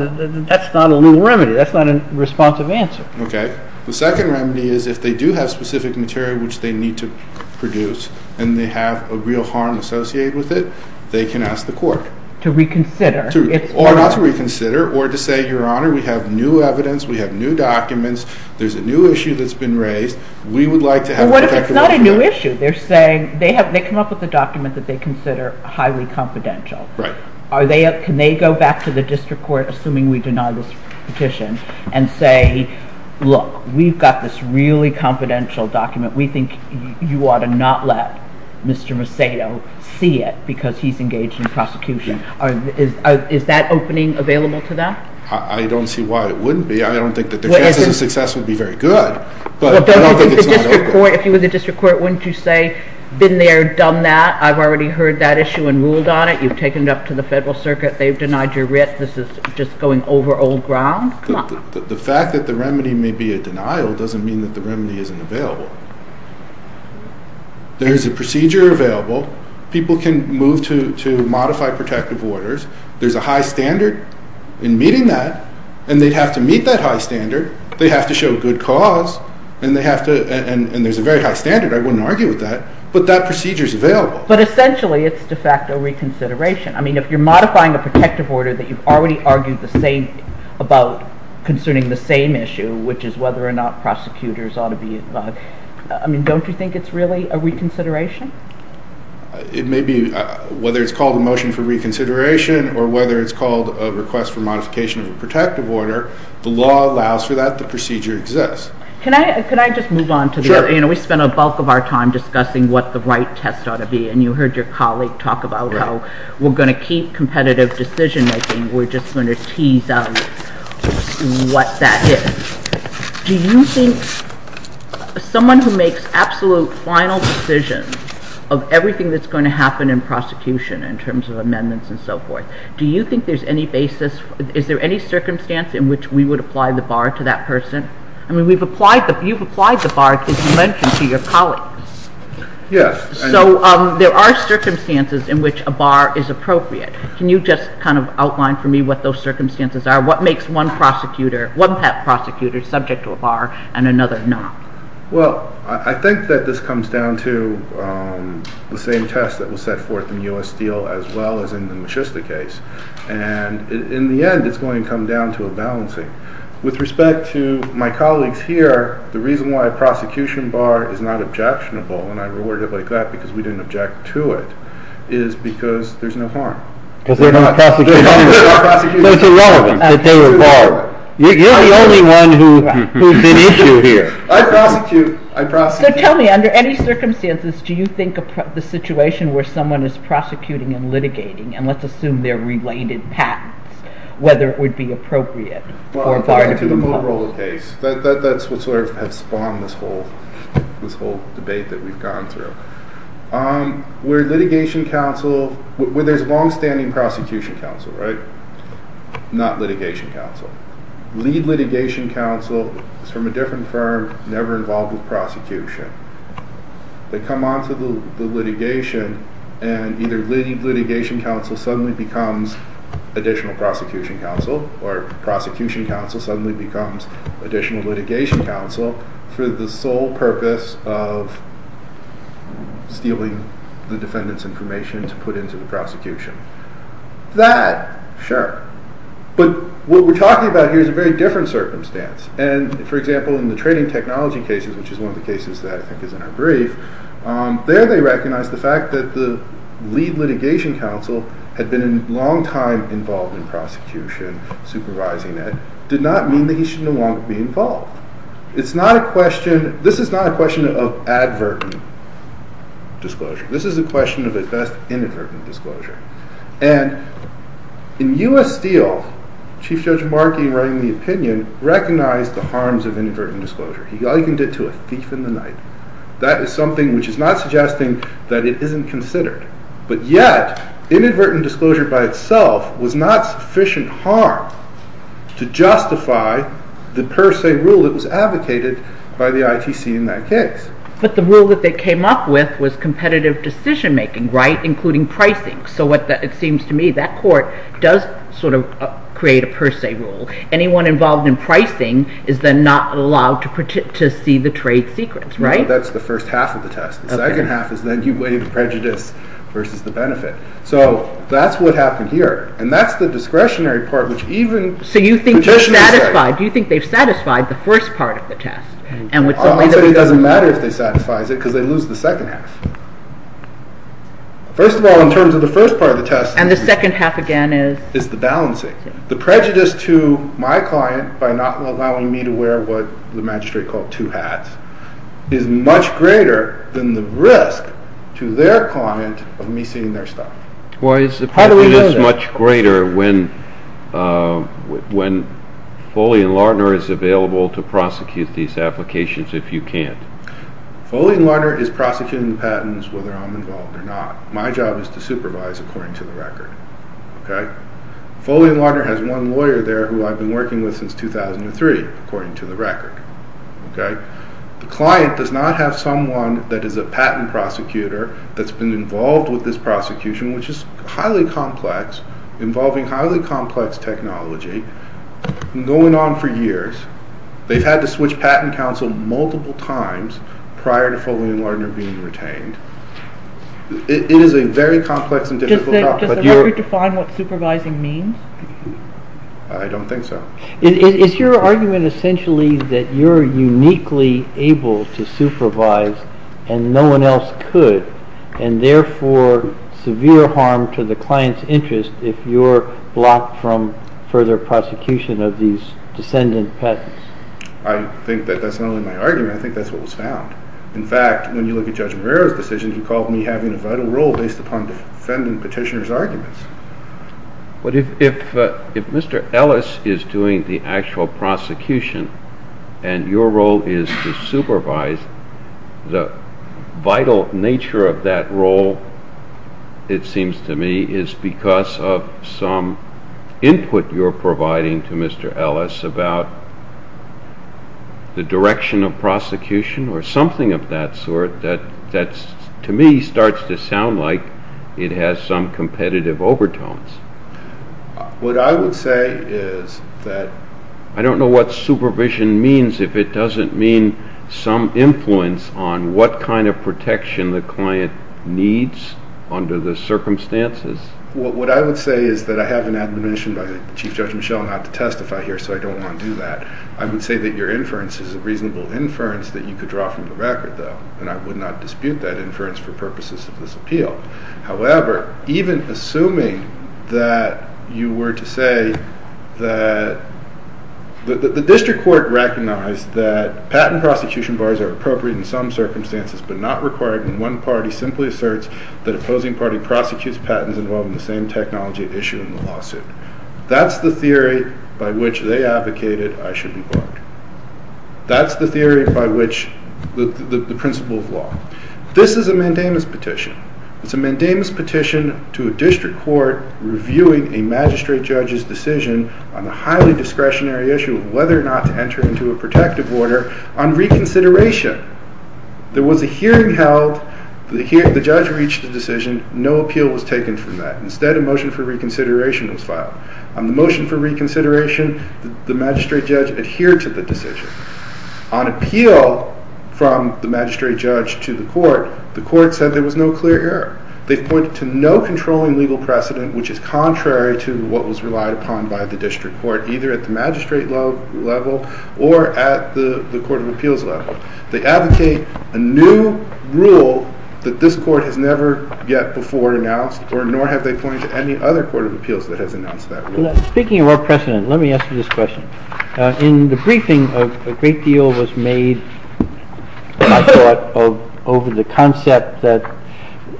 that's not a legal remedy. That's not a responsive answer. Okay. The second remedy is, if they do have specific material which they need to produce, and they have a real harm associated with it, they can ask the court. To reconsider. Not to reconsider, or to say, Your Honor, we have new evidence. We have new documents. There's a new issue that's been raised. We would like to have it. But it's not a new issue. They come up with a document that they consider highly confidential. Right. Can they go back to the district court, assuming we deny this petition, and say, Look, we've got this really confidential document. We think you ought to not let Mr. Macedo see it because he's engaged in prosecution. Is that opening available to them? I don't see why it wouldn't be. I don't think that the case would be very good. If you were the district court, wouldn't you say, Been there, done that. I've already heard that issue and ruled on it. You've taken it up to the federal circuit. They've denied your writ. This is just going over old ground. The fact that the remedy may be a denial doesn't mean that the remedy isn't available. There is a procedure available. People can move to modify protective orders. They have to show good cause. And there's a very high standard. I wouldn't argue with that. But that procedure is available. But essentially, it's de facto reconsideration. I mean, if you're modifying a protective order that you've already argued about concerning the same issue, which is whether or not prosecutors ought to be involved, don't you think it's really a reconsideration? It may be. Whether it's called a motion for reconsideration or whether it's called a request for modification of a protective order, the law allows for that. The procedure exists. Can I just move on to this? We spent the bulk of our time discussing what the right test ought to be, and you heard your colleague talk about how we're going to keep competitive decision-making. We're just going to tease out what that is. Do you think someone who makes absolute final decisions of everything that's going to happen in prosecution, in terms of amendments and so forth, do you think there's any basis? Do you think there's any basis in which we would apply the bar to that person? I mean, you've applied the bar to your colleagues. Yes. So there are circumstances in which a bar is appropriate. Can you just kind of outline for me what those circumstances are? What makes one prosecutor, one type of prosecutor, subject to a bar and another not? Well, I think that this comes down to the same test that was set forth in the U.S. Steel as well as in the McChrystal case. And in the end, it's going to come down to a balancing. With respect to my colleagues here, the reason why a prosecution bar is not objectionable, and I reword it like that because we didn't object to it, is because there's no harm. Because they're not prosecuted. They're irrelevant. You're the only one who's an issue here. I prosecute. So tell me, under any circumstances, do you think the situation where someone is prosecuting and litigating, and let's assume they're related patents, whether it would be appropriate for a bar to be involved? Well, that's sort of what has spawned this whole debate that we've gone through. With litigation counsel, there's longstanding prosecution counsel, right? Not litigation counsel. We need litigation counsel from a different firm, never involved with prosecution. They come on to the litigation, and either litigation counsel suddenly becomes additional prosecution counsel, or prosecution counsel suddenly becomes additional litigation counsel, for the sole purpose of stealing the defendant's information to put into the prosecution. Is that fair? Sure. But what we're talking about here is a very different circumstance. And, for example, in the trading technology cases, which is one of the cases that is in our brief, there they recognize the fact that the lead litigation counsel had been a long time involved in prosecution, supervising it, did not mean that he should no longer be involved. This is not a question of adverting disclosure. This is a question of assessed inadvertent disclosure. And in U.S. Steel, Chief Judge Markey, writing the opinion, recognized the harms of inadvertent disclosure. He likened it to a piece of the knife. That is something which is not suggesting that it isn't considered. But yet, inadvertent disclosure by itself was not sufficient harm to justify the per se rule that was advocated by the ITC in that case. But the rule that they came up with was competitive decision-making, right, including pricing. So it seems to me that court does sort of create a per se rule. Anyone involved in pricing is then not allowed to see the trade secrets, right? No, that's the first half of the test. The second half is then you weigh the prejudice versus the benefit. So that's what happens here. And that's the discretionary part, which even— So you think they've satisfied the first part of the test. It doesn't matter if they've satisfied it because they lose the second half. First of all, in terms of the first part of the test— And the second half, again, is— Is the balancing. The prejudice to my client by not allowing me to wear what the magistrate called two hats is much greater than the risk to their client of me stealing their stuff. Why is the prejudice much greater when Foley and Larner is available to prosecute these applications if you can't? Foley and Larner is prosecuting patents whether I'm involved or not. My job is to supervise according to the record, okay? Foley and Larner has one lawyer there who I've been working with since 2003, according to the record, okay? The client does not have someone that is a patent prosecutor that's been involved with this prosecution, which is highly complex, involving highly complex technology, going on for years. They've had to switch patent counsel multiple times prior to Foley and Larner being detained. It is a very complex and difficult process. Does the record define what supervising means? I don't think so. Is your argument essentially that you're uniquely able to supervise and no one else could, and therefore severe harm to the client's interest if you're blocked from further prosecution of these descendant patents? I think that that's not only my argument. I think that's what was found. In fact, when you look at Judge Marrero's decision, he called me having a vital role based upon the defendant petitioner's arguments. But if Mr. Ellis is doing the actual prosecution and your role is to supervise, the vital nature of that role, it seems to me, is because of some input you're providing to Mr. Ellis about the direction of prosecution or something of that sort that, to me, starts to sound like it has some competitive overtones. What I would say is that I don't know what supervision means if it doesn't mean some influence on what kind of protection the client needs under the circumstances. What I would say is that I have an admonition by Chief Judge Michel not to testify here, so I don't want to do that. I would say that your inference is a reasonable inference that you could draw from the record, though, and I would not dispute that inference for purposes of this appeal. However, even assuming that you were to say that the district court recognized that patent prosecution bars are appropriate in some circumstances but not required when one party simply asserts that opposing parties prosecute patents involving the same technology issued in the lawsuit. That's the theory by which they advocated I should be barred. That's the theory by which the principle of law. This is a mandamus petition. It's a mandamus petition to a district court reviewing a magistrate judge's decision on the highly discretionary issue of whether or not to enter into a protective order on reconsideration. There was a hearing held. The judge reached a decision. No appeal was taken from that. Instead, a motion for reconsideration was filed. On the motion for reconsideration, the magistrate judge adhered to the petition. On appeal from the magistrate judge to the court, the court said there was no clear error. They pointed to no controlling legal precedent, which is contrary to what was relied upon by the district court, either at the magistrate level or at the court of appeals level. They advocate a new rule that this court has never yet before announced, nor have they pointed to any other court of appeals that has announced that rule. Speaking of our precedent, let me ask you this question. In the briefing, a great deal was made, in my thought, over the concept that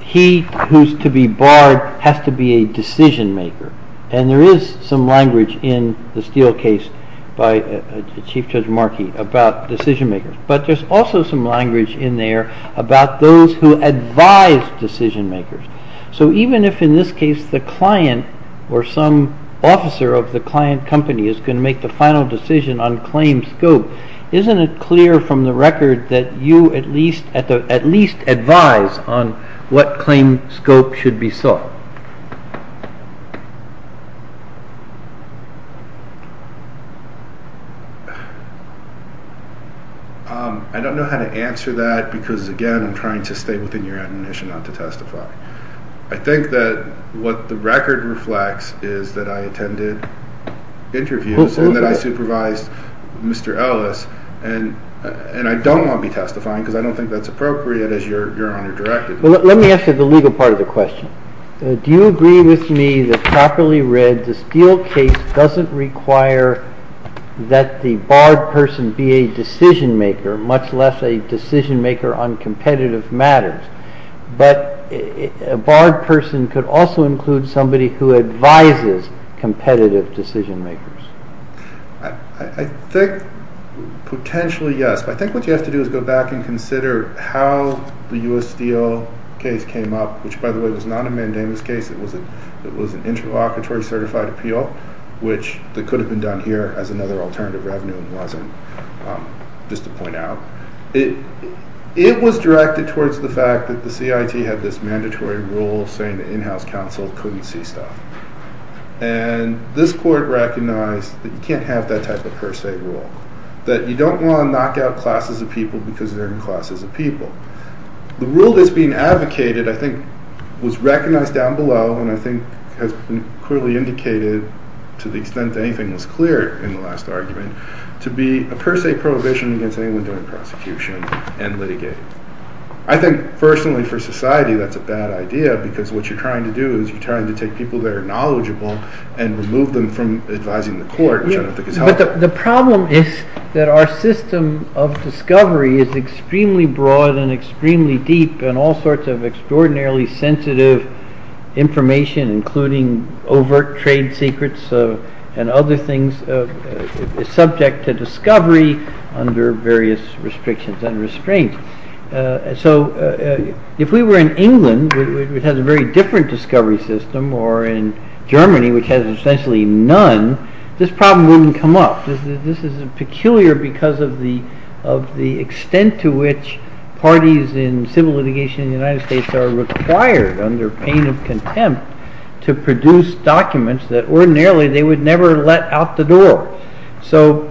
he who's to be barred has to be a decision-maker. And there is some language in the Steele case by Chief Judge Markey about decision-makers. But there's also some language in there about those who advise decision-makers. So even if, in this case, the client or some officer of the client company is going to make the final decision on claim scope, isn't it clear from the record that you at least advise on what claim scope should be sought? I don't know how to answer that because, again, I'm trying to stay within your admonition not to testify. I think that what the record reflects is that I attended interviews and that I supervised Mr. Ellis, and I don't want to be testifying because I don't think that's appropriate as you're under-directed. Let me ask you the legal part of the question. Do you agree with me that, properly read, the Steele case doesn't require that the barred person be a decision-maker, much less a decision-maker on competitive matters? But a barred person could also include somebody who advises competitive decision-makers. I think, potentially, yes. I think what you have to do is go back and consider how the U.S. Steele case came up, which, by the way, was not a mandamus case. It was an interlocutory certified appeal, which could have been done here as another alternative revenue. It wasn't, just to point out. It was directed towards the fact that the CIT had this mandatory rule saying that in-house counsel couldn't see stuff. And this court recognized that you can't have that type of per se rule, that you don't want to knock out classes of people because they're in classes of people. The rule that's being advocated, I think, was recognized down below, and I think has been clearly indicated to the extent that anything was clear in the last argument, to be a per se prohibition against anyone doing prosecution and litigating. I think, personally, for society, that's a bad idea, because what you're trying to do is you're trying to take people that are knowledgeable and remove them from advising the court and show them if they can help. But the problem is that our system of discovery is extremely broad and extremely deep, and all sorts of extraordinarily sensitive information, including overt trade secrets and other things, is subject to discovery under various restrictions and restraints. So if we were in England, which has a very different discovery system, or in Germany, which has essentially none, this problem wouldn't come up. This is peculiar because of the extent to which parties in civil litigation in the United States are required, under pain of contempt, to produce documents that ordinarily they would never let out the door. So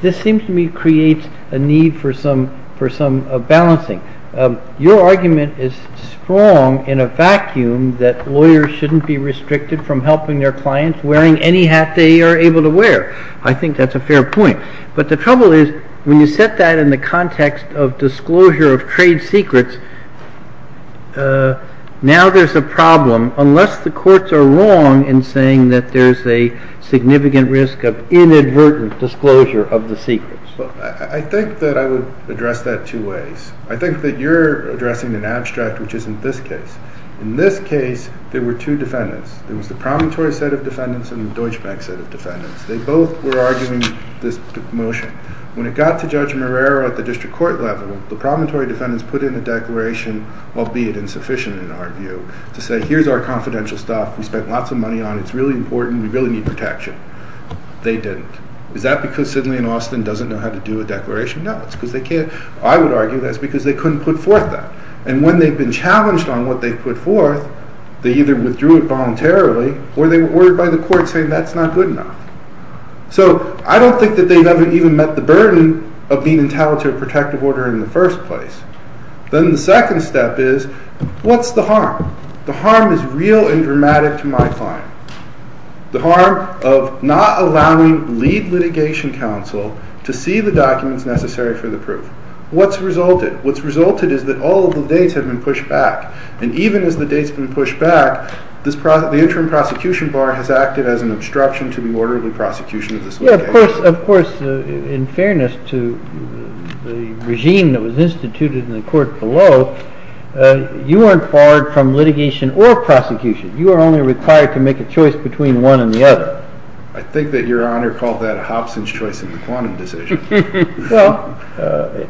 this seems to me to create a need for some balancing. Your argument is strong in a vacuum that lawyers shouldn't be restricted from helping their clients wearing any hat they are able to wear. I think that's a fair point. But the trouble is, when you set that in the context of disclosure of trade secrets, now there's a problem, unless the courts are wrong in saying that there's a significant risk of inadvertent disclosure of the secrets. I think that I would address that two ways. I think that you're addressing an abstract, which isn't this case. In this case, there were two defendants. There was the promontory set of defendants and the Deutsche Bank set of defendants. They both were arguing this motion. When it got to Judge Marrero at the district court level, the promontory defendants put in the declaration, albeit insufficient in our view, to say, here's our confidential stuff, we spent lots of money on it, it's really important, we really need protection. They didn't. Is that because Sidney and Austin doesn't know how to do a declaration? No, it's because they can't. I would argue that's because they couldn't put forth that. And when they've been challenged on what they've put forth, they either withdrew it voluntarily or by the court saying that's not good enough. So I don't think that they've ever even met the burden of being entitled to a protective order in the first place. Then the second step is, what's the harm? The harm is real and dramatic to my client. The harm of not allowing lead litigation counsel to see the documents necessary for the proof. What's resulted? What's resulted is that all of the dates have been pushed back. And even as the dates have been pushed back, the interim prosecution bar has acted as an obstruction to the order of the prosecution. Of course, in fairness to the regime that was instituted in the court below, you aren't barred from litigation or prosecution. You are only required to make a choice between one and the other. I think that your Honor called that a Hobson's choice and Duquan decision. Well,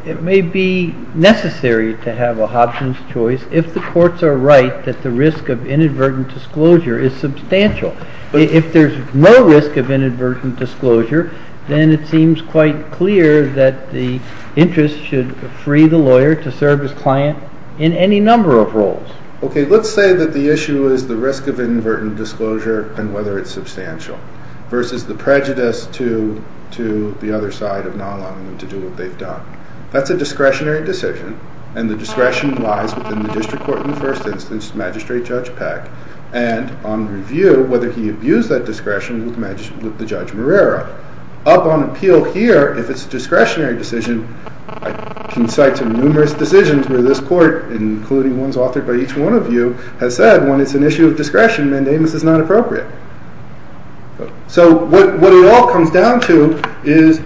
it may be necessary to have a Hobson's choice if the courts are right that the risk of inadvertent disclosure is substantial. If there's no risk of inadvertent disclosure, then it seems quite clear that the interest should free the lawyer to serve his client in any number of roles. Okay, let's say that the issue is the risk of inadvertent disclosure and whether it's substantial versus the prejudice to the other side of not allowing them to do what they've done. That's a discretionary decision, and the discretion lies within the district court in the first instance, Magistrate Judge Peck, and on review, whether he views that discretion with the Judge Marrero. Up on appeal here, if it's a discretionary decision, I can cite some numerous decisions where this court, including ones authored by each one of you, has said when it's an issue of discretion, mandamus is not appropriate. So what it all comes down to is,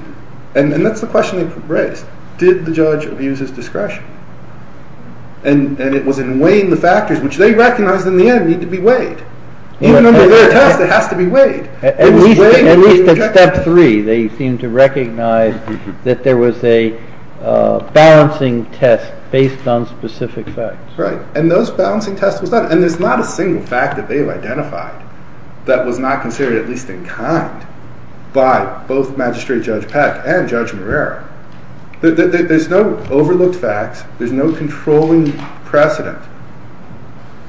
and that's the question, right, did the judge abuse his discretion? And it was in weighing the factors, which they recognized in the end needed to be weighed. You don't know where it is, it has to be weighed. In step three, they seem to recognize that there was a balancing test based on specific facts. Right, and those balancing tests were done, and there's not a single fact that they've identified that was not considered, at least in kind, by both Magistrate Judge Peck and Judge Marrero. There's no overlooked facts, there's no controlling precedent.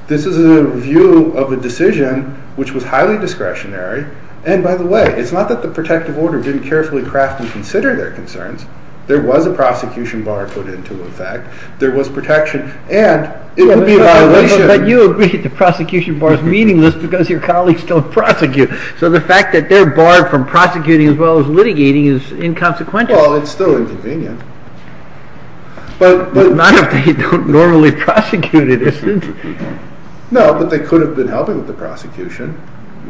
This is a review of a decision which was highly discretionary, and by the way, it's not that the protective order didn't carefully craft and consider their concerns, there was a prosecution bar put into effect, there was protection, and it was a violation. But you agree that the prosecution bar is meaningless because your colleagues don't prosecute, so the fact that they're barred from prosecuting as well as litigating is inconsequential. Well, it's still inconvenient. But none of them are normally prosecuted, isn't it? No, but they could have been held in the prosecution.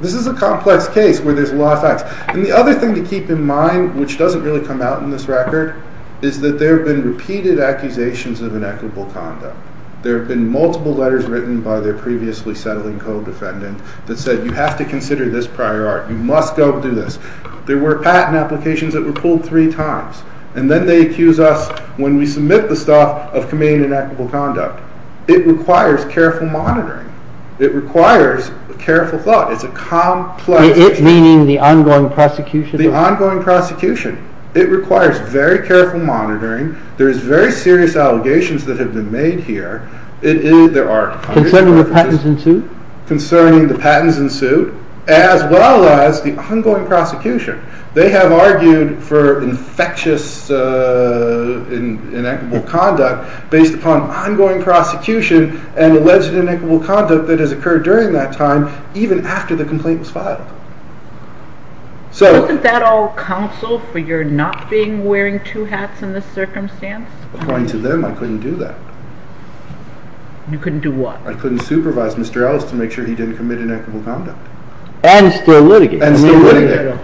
This is a complex case where there's a lot of facts. And the other thing to keep in mind, which doesn't really come out in this record, is that there have been repeated accusations of inequitable conduct. There have been multiple letters written by their previously settling co-defendant that said you have to consider this prior art, you must go do this. There were patent applications that were pulled three times. And then they accuse us, when we submit the stuff, of committing inequitable conduct. It requires careful monitoring. It requires careful thought. It's a complex case. You mean the ongoing prosecution? The ongoing prosecution. It requires very careful monitoring. There's very serious allegations that have been made here. Concerning the patents in suit? Concerning the patents in suit, as well as the ongoing prosecution. They have argued for infectious inequitable conduct based upon ongoing prosecution and alleged inequitable conduct that has occurred during that time, even after the complaint was filed. Isn't that all counsel for your not being wearing two hats in this circumstance? According to them, I couldn't do that. You couldn't do what? I couldn't supervise Mr. Ellis to make sure he didn't commit inequitable conduct. And still litigate. And still litigate.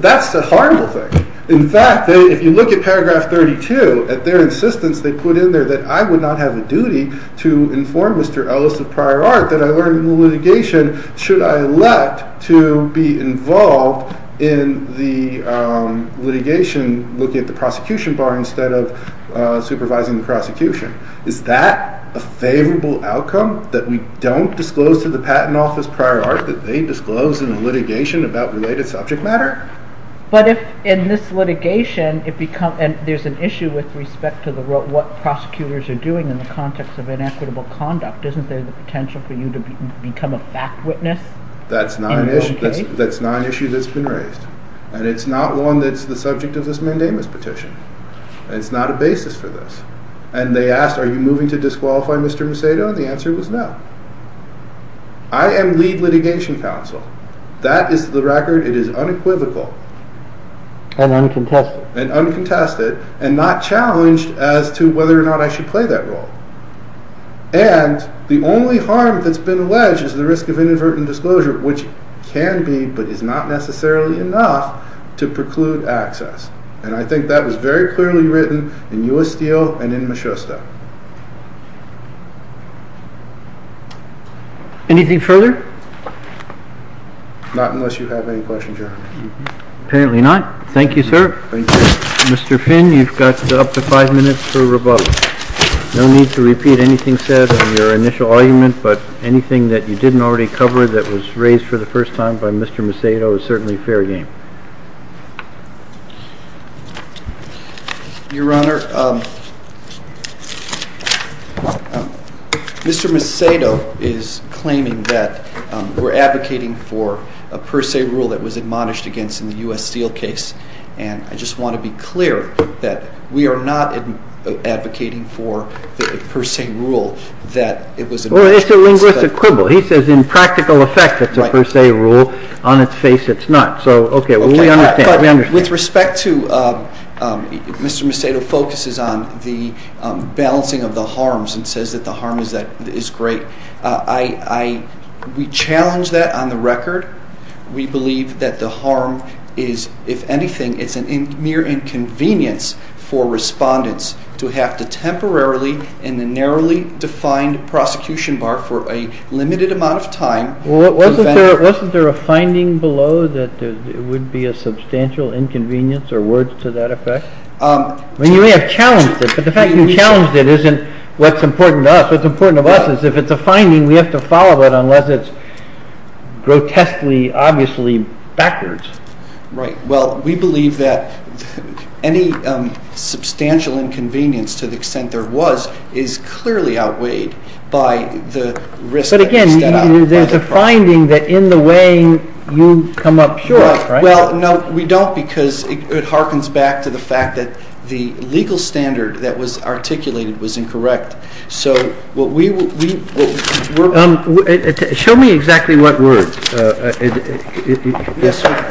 That's a horrible thing. In fact, if you look at paragraph 32, at their insistence they put in there that I would not have a duty to inform Mr. Ellis of prior art that I learned in the litigation should I elect to be involved in the litigation looking at the prosecution bar instead of supervising the prosecution. Is that a favorable outcome? That you don't disclose to the patent office prior art that they disclosed in the litigation about related subject matter? But if in this litigation, there's an issue with respect to what prosecutors are doing in the context of inequitable conduct. Isn't there the potential for you to become a fact witness? That's not an issue that's been raised. And it's not one that's the subject of this mandamus petition. And it's not a basis for this. And they asked, are you moving to disqualify Mr. Macedo? And the answer was no. I am lead litigation counsel. That is the record. It is unequivocal. And uncontested. And uncontested. And not challenged as to whether or not I should play that role. And the only harm that's been alleged is the risk of inadvertent disclosure, which can be, but is not necessarily enough, to preclude access. And I think that was very clearly written in U.S. Steel and in Michusta. Anything further? Not unless you have any questions, Your Honor. Apparently not. Thank you, sir. Thank you. Mr. Finn, you've got up to five minutes for rebuttal. No need to repeat anything said in your initial argument. But anything that you didn't already cover that was raised for the first time by Mr. Macedo is certainly fair game. Your Honor, Mr. Macedo is claiming that we're advocating for a per se rule that was admonished against in the U.S. Steel case. And I just want to be clear that we are not advocating for the per se rule that it was admonished against. Well, it's a linguistic quibble. He says in practical effect it's a per se rule. On its face it's not. So, okay, we understand. With respect to Mr. Macedo focuses on the balancing of the harms and says that the harm is great. We challenge that on the record. We believe that the harm is, if anything, it's a mere inconvenience for respondents to have the temporarily and the narrowly defined prosecution bar for a limited amount of time. Wasn't there a finding below that it would be a substantial inconvenience or words to that effect? I mean, you may have challenged it, but the fact you challenged it isn't what's important to us. What's important to us is if it's a finding, we have to follow it unless it's grotesquely, obviously backwards. Right. Well, we believe that any substantial inconvenience to the extent there was is clearly outweighed by the risk. But, again, there's a finding that in the way you come up here, right? Well, no, we don't because it harkens back to the fact that the legal standard that was articulated was incorrect. So what we – Show me exactly what words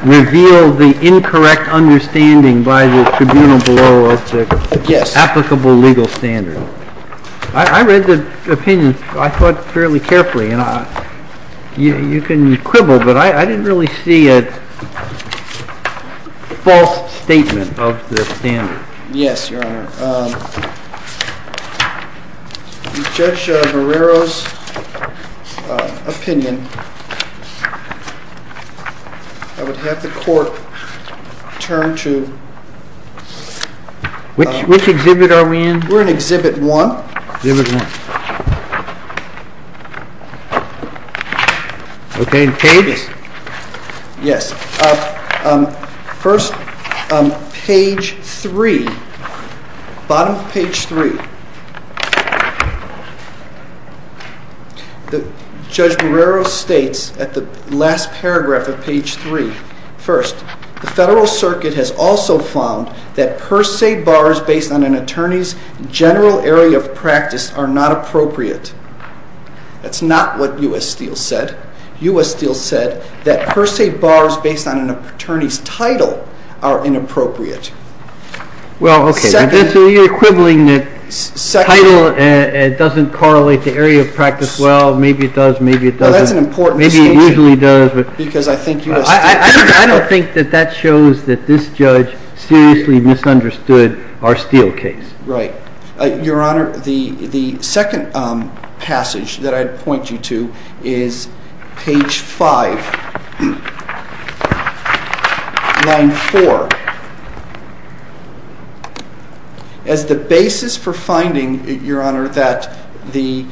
reveal the incorrect understanding by the tribune below of the applicable legal standard. I read the opinion fairly carefully, and you can quibble, but I didn't really see a false statement of the standard. Yes, Your Honor. In Judge Barrero's opinion, I would have the court turn to – Which exhibit are we in? We're in Exhibit 1. Exhibit 1. Okay, pages. Yes. First, page 3. Bottom of page 3. Judge Barrero states at the last paragraph of page 3. First, the Federal Circuit has also found that per se bars based on an attorney's general area of practice are not appropriate. That's not what U.S. Steel said. U.S. Steel said that per se bars based on an attorney's title are inappropriate. Well, okay. So you're quibbling that title doesn't correlate to area of practice. Well, maybe it does, maybe it doesn't. That's an important statement. Maybe it usually does. Because I think U.S. Steel – I don't think that that shows that this judge seriously misunderstood our Steel case. Right. Your Honor, the second passage that I'd point you to is page 5, line 4. As the basis for finding, Your Honor, that the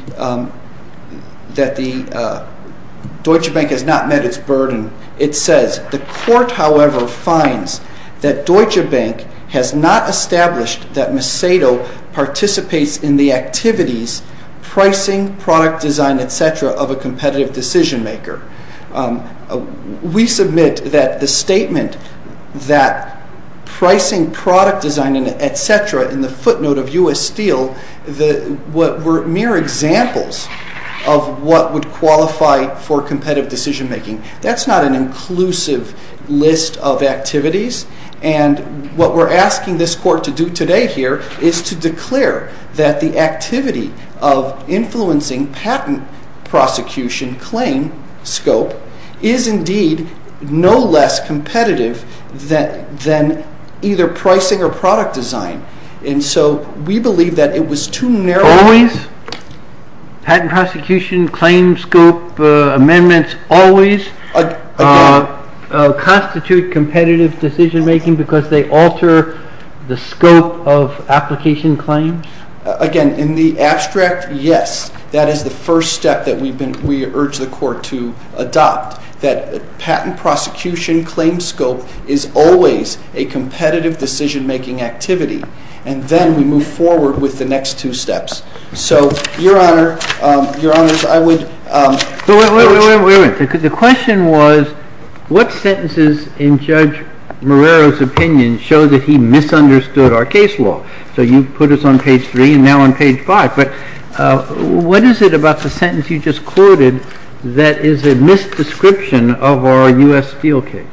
Deutsche Bank has not met its burden, it says, the court, however, finds that Deutsche Bank has not established that Macedo participates in the activities, pricing, product design, etc., of a competitive decision maker. We submit that the statement that pricing, product design, etc. in the footnote of U.S. Steel were mere examples of what would qualify for competitive decision making. That's not an inclusive list of activities. And what we're asking this court to do today here is to declare that the activity of influencing patent prosecution claim scope is indeed no less competitive than either pricing or product design. We believe that it was too narrow – Always? Patent prosecution claim scope amendments always constitute competitive decision making because they alter the scope of application claims? Again, in the abstract, yes. That is the first step that we urge the court to adopt. That patent prosecution claim scope is always a competitive decision making activity. And then we move forward with the next two steps. So, Your Honor, I would – Wait a minute. The question was, what sentences in Judge Morello's opinion show that he misunderstood our case law? So you put us on page 3 and now on page 5. What is it about the sentence you just quoted that is a misdescription of our U.S. Steel case?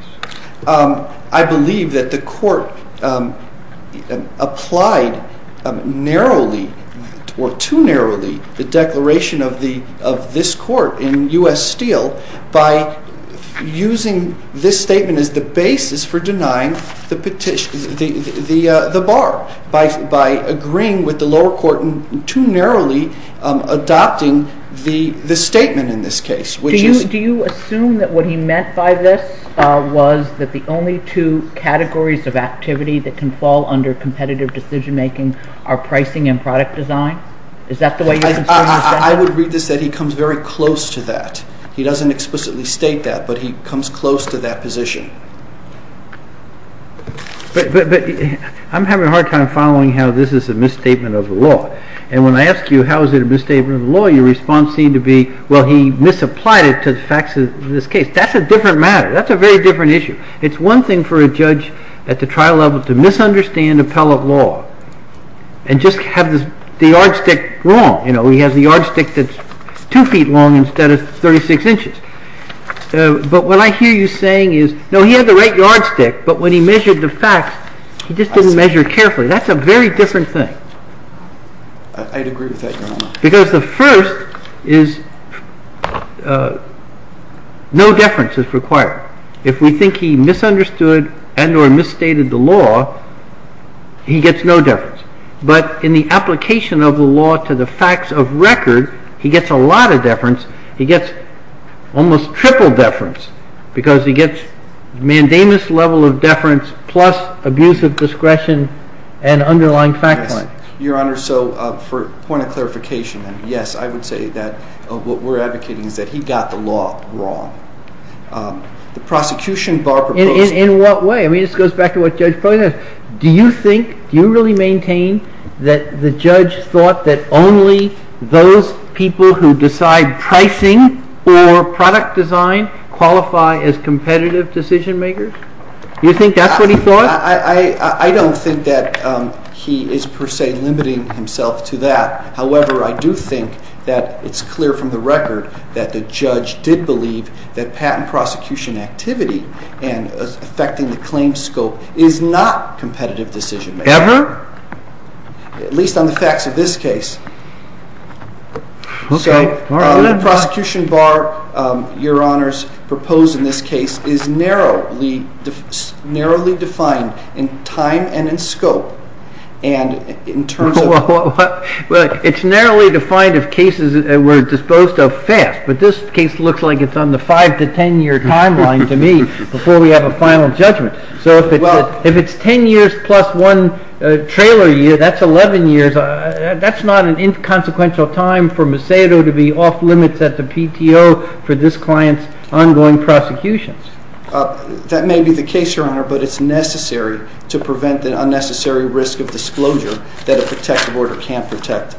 adopting the statement in this case. Do you assume that what he meant by this was that the only two categories of activity that can fall under competitive decision making are pricing and product design? I would read this that he comes very close to that. He doesn't explicitly state that, but he comes close to that position. I'm having a hard time following how this is a misstatement of the law. And when I ask you how is it a misstatement of the law, your response seems to be, well, he misapplied it to the facts of this case. That's a different matter. That's a very different issue. It's one thing for a judge at the trial level to misunderstand appellate law and just have the yardstick wrong. You know, he has the yardstick that's two feet long instead of 36 inches. But what I hear you saying is, no, he has the right yardstick, but when he measured the facts, he just didn't measure carefully. That's a very different thing. I'd agree with that, Your Honor. Because the first is no deference is required. If we think he misunderstood and or misstated the law, he gets no deference. But in the application of the law to the facts of record, he gets a lot of deference. He gets almost triple deference, because he gets mandamus level of deference plus abuse of discretion and underlying fact-finding. Your Honor, so for a point of clarification, yes, I would say that what we're advocating is that he got the law wrong. The prosecution, Barbara Brooks... In what way? I mean, this goes back to what Judge Poynter said. Do you think, do you really maintain that the judge thought that only those people who decide pricing for product design qualify as competitive decision-makers? Do you think that's what he thought? I don't think that he is per se limiting himself to that. However, I do think that it's clear from the record that the judge did believe that patent prosecution activity and affecting the claim scope is not competitive decision-making. Ever? At least on the facts of this case. Okay. The prosecution bar, Your Honors, proposed in this case is narrowly defined in time and in scope, and in terms of... It's narrowly defined of cases that were disposed of fast, but this case looks like it's on the five to ten year timeline to me before we have a final judgment. If it's ten years plus one trailer year, that's eleven years. That's not an inconsequential time for Macedo to be off limits at the PTO for this client's ongoing prosecutions. That may be the case, Your Honor, but it's necessary to prevent the unnecessary risk of disclosure that a protected order can't protect.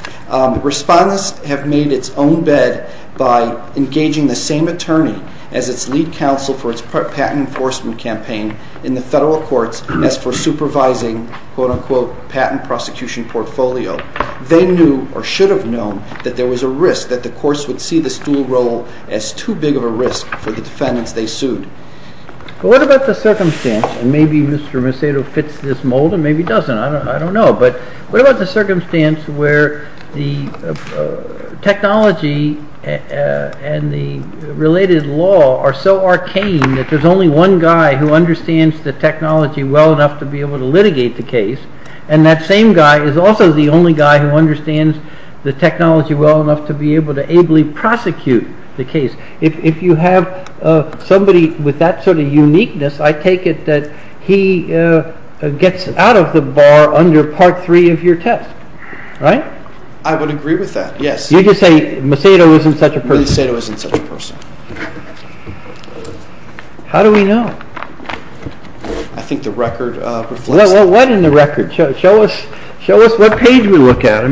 Respondents have made its own bed by engaging the same attorney as its lead counsel for its patent enforcement campaign in the federal courts as for supervising, quote-unquote, patent prosecution portfolio. They knew or should have known that there was a risk that the courts would see the steel roll as too big of a risk for the defendants they sued. What about the circumstance, and maybe Mr. Macedo fits this mold and maybe doesn't, I don't know. But what about the circumstance where the technology and the related law are so arcane that there's only one guy who understands the technology well enough to be able to litigate the case, and that same guy is also the only guy who understands the technology well enough to be able to ably prosecute the case? If you have somebody with that sort of uniqueness, I take it that he gets out of the bar under Part 3 of your test, right? I would agree with that, yes. You just say Macedo isn't such a person. Macedo isn't such a person. How do we know? I think the record. What in the record? Show us what page we look at.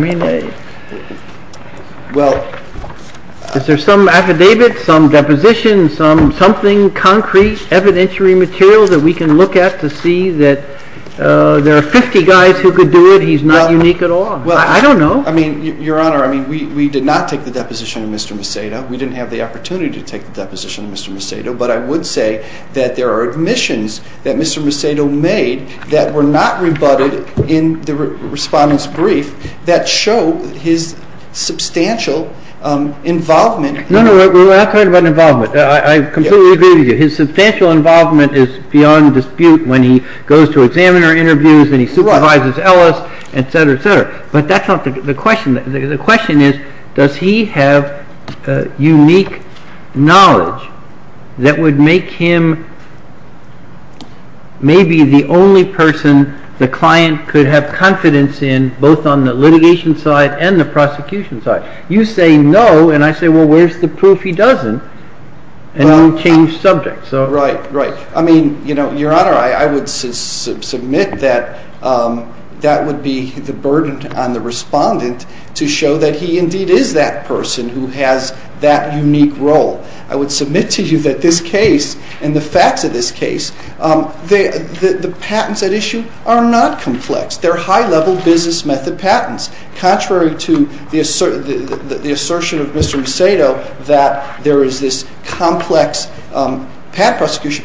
Is there some affidavit, some deposition, some something concrete, evidentiary material that we can look at to see that there are 50 guys who could do it, he's not unique at all? I don't know. Your Honor, we did not take the deposition on Mr. Macedo. We didn't have the opportunity to take the deposition on Mr. Macedo. But I would say that there are omissions that Mr. Macedo made that were not rebutted in the respondent's brief that show his substantial involvement. No, no, no. I have a point about involvement. I completely agree with you. His substantial involvement is beyond dispute when he goes to examiner interviews and he supervises Ellis, et cetera, et cetera. But that's not the question. The question is, does he have unique knowledge that would make him maybe the only person the client could have confidence in, both on the litigation side and the prosecution side? You say no, and I say, well, where's the proof he doesn't? And then change subjects. Right, right. Your Honor, I would submit that that would be the burden on the respondent to show that he indeed is that person who has that unique role. I would submit to you that this case and the facts of this case, the patents at issue are not complex. They're high-level business method patents. Contrary to the assertion of Mr. Macedo that there is this complex patent prosecution,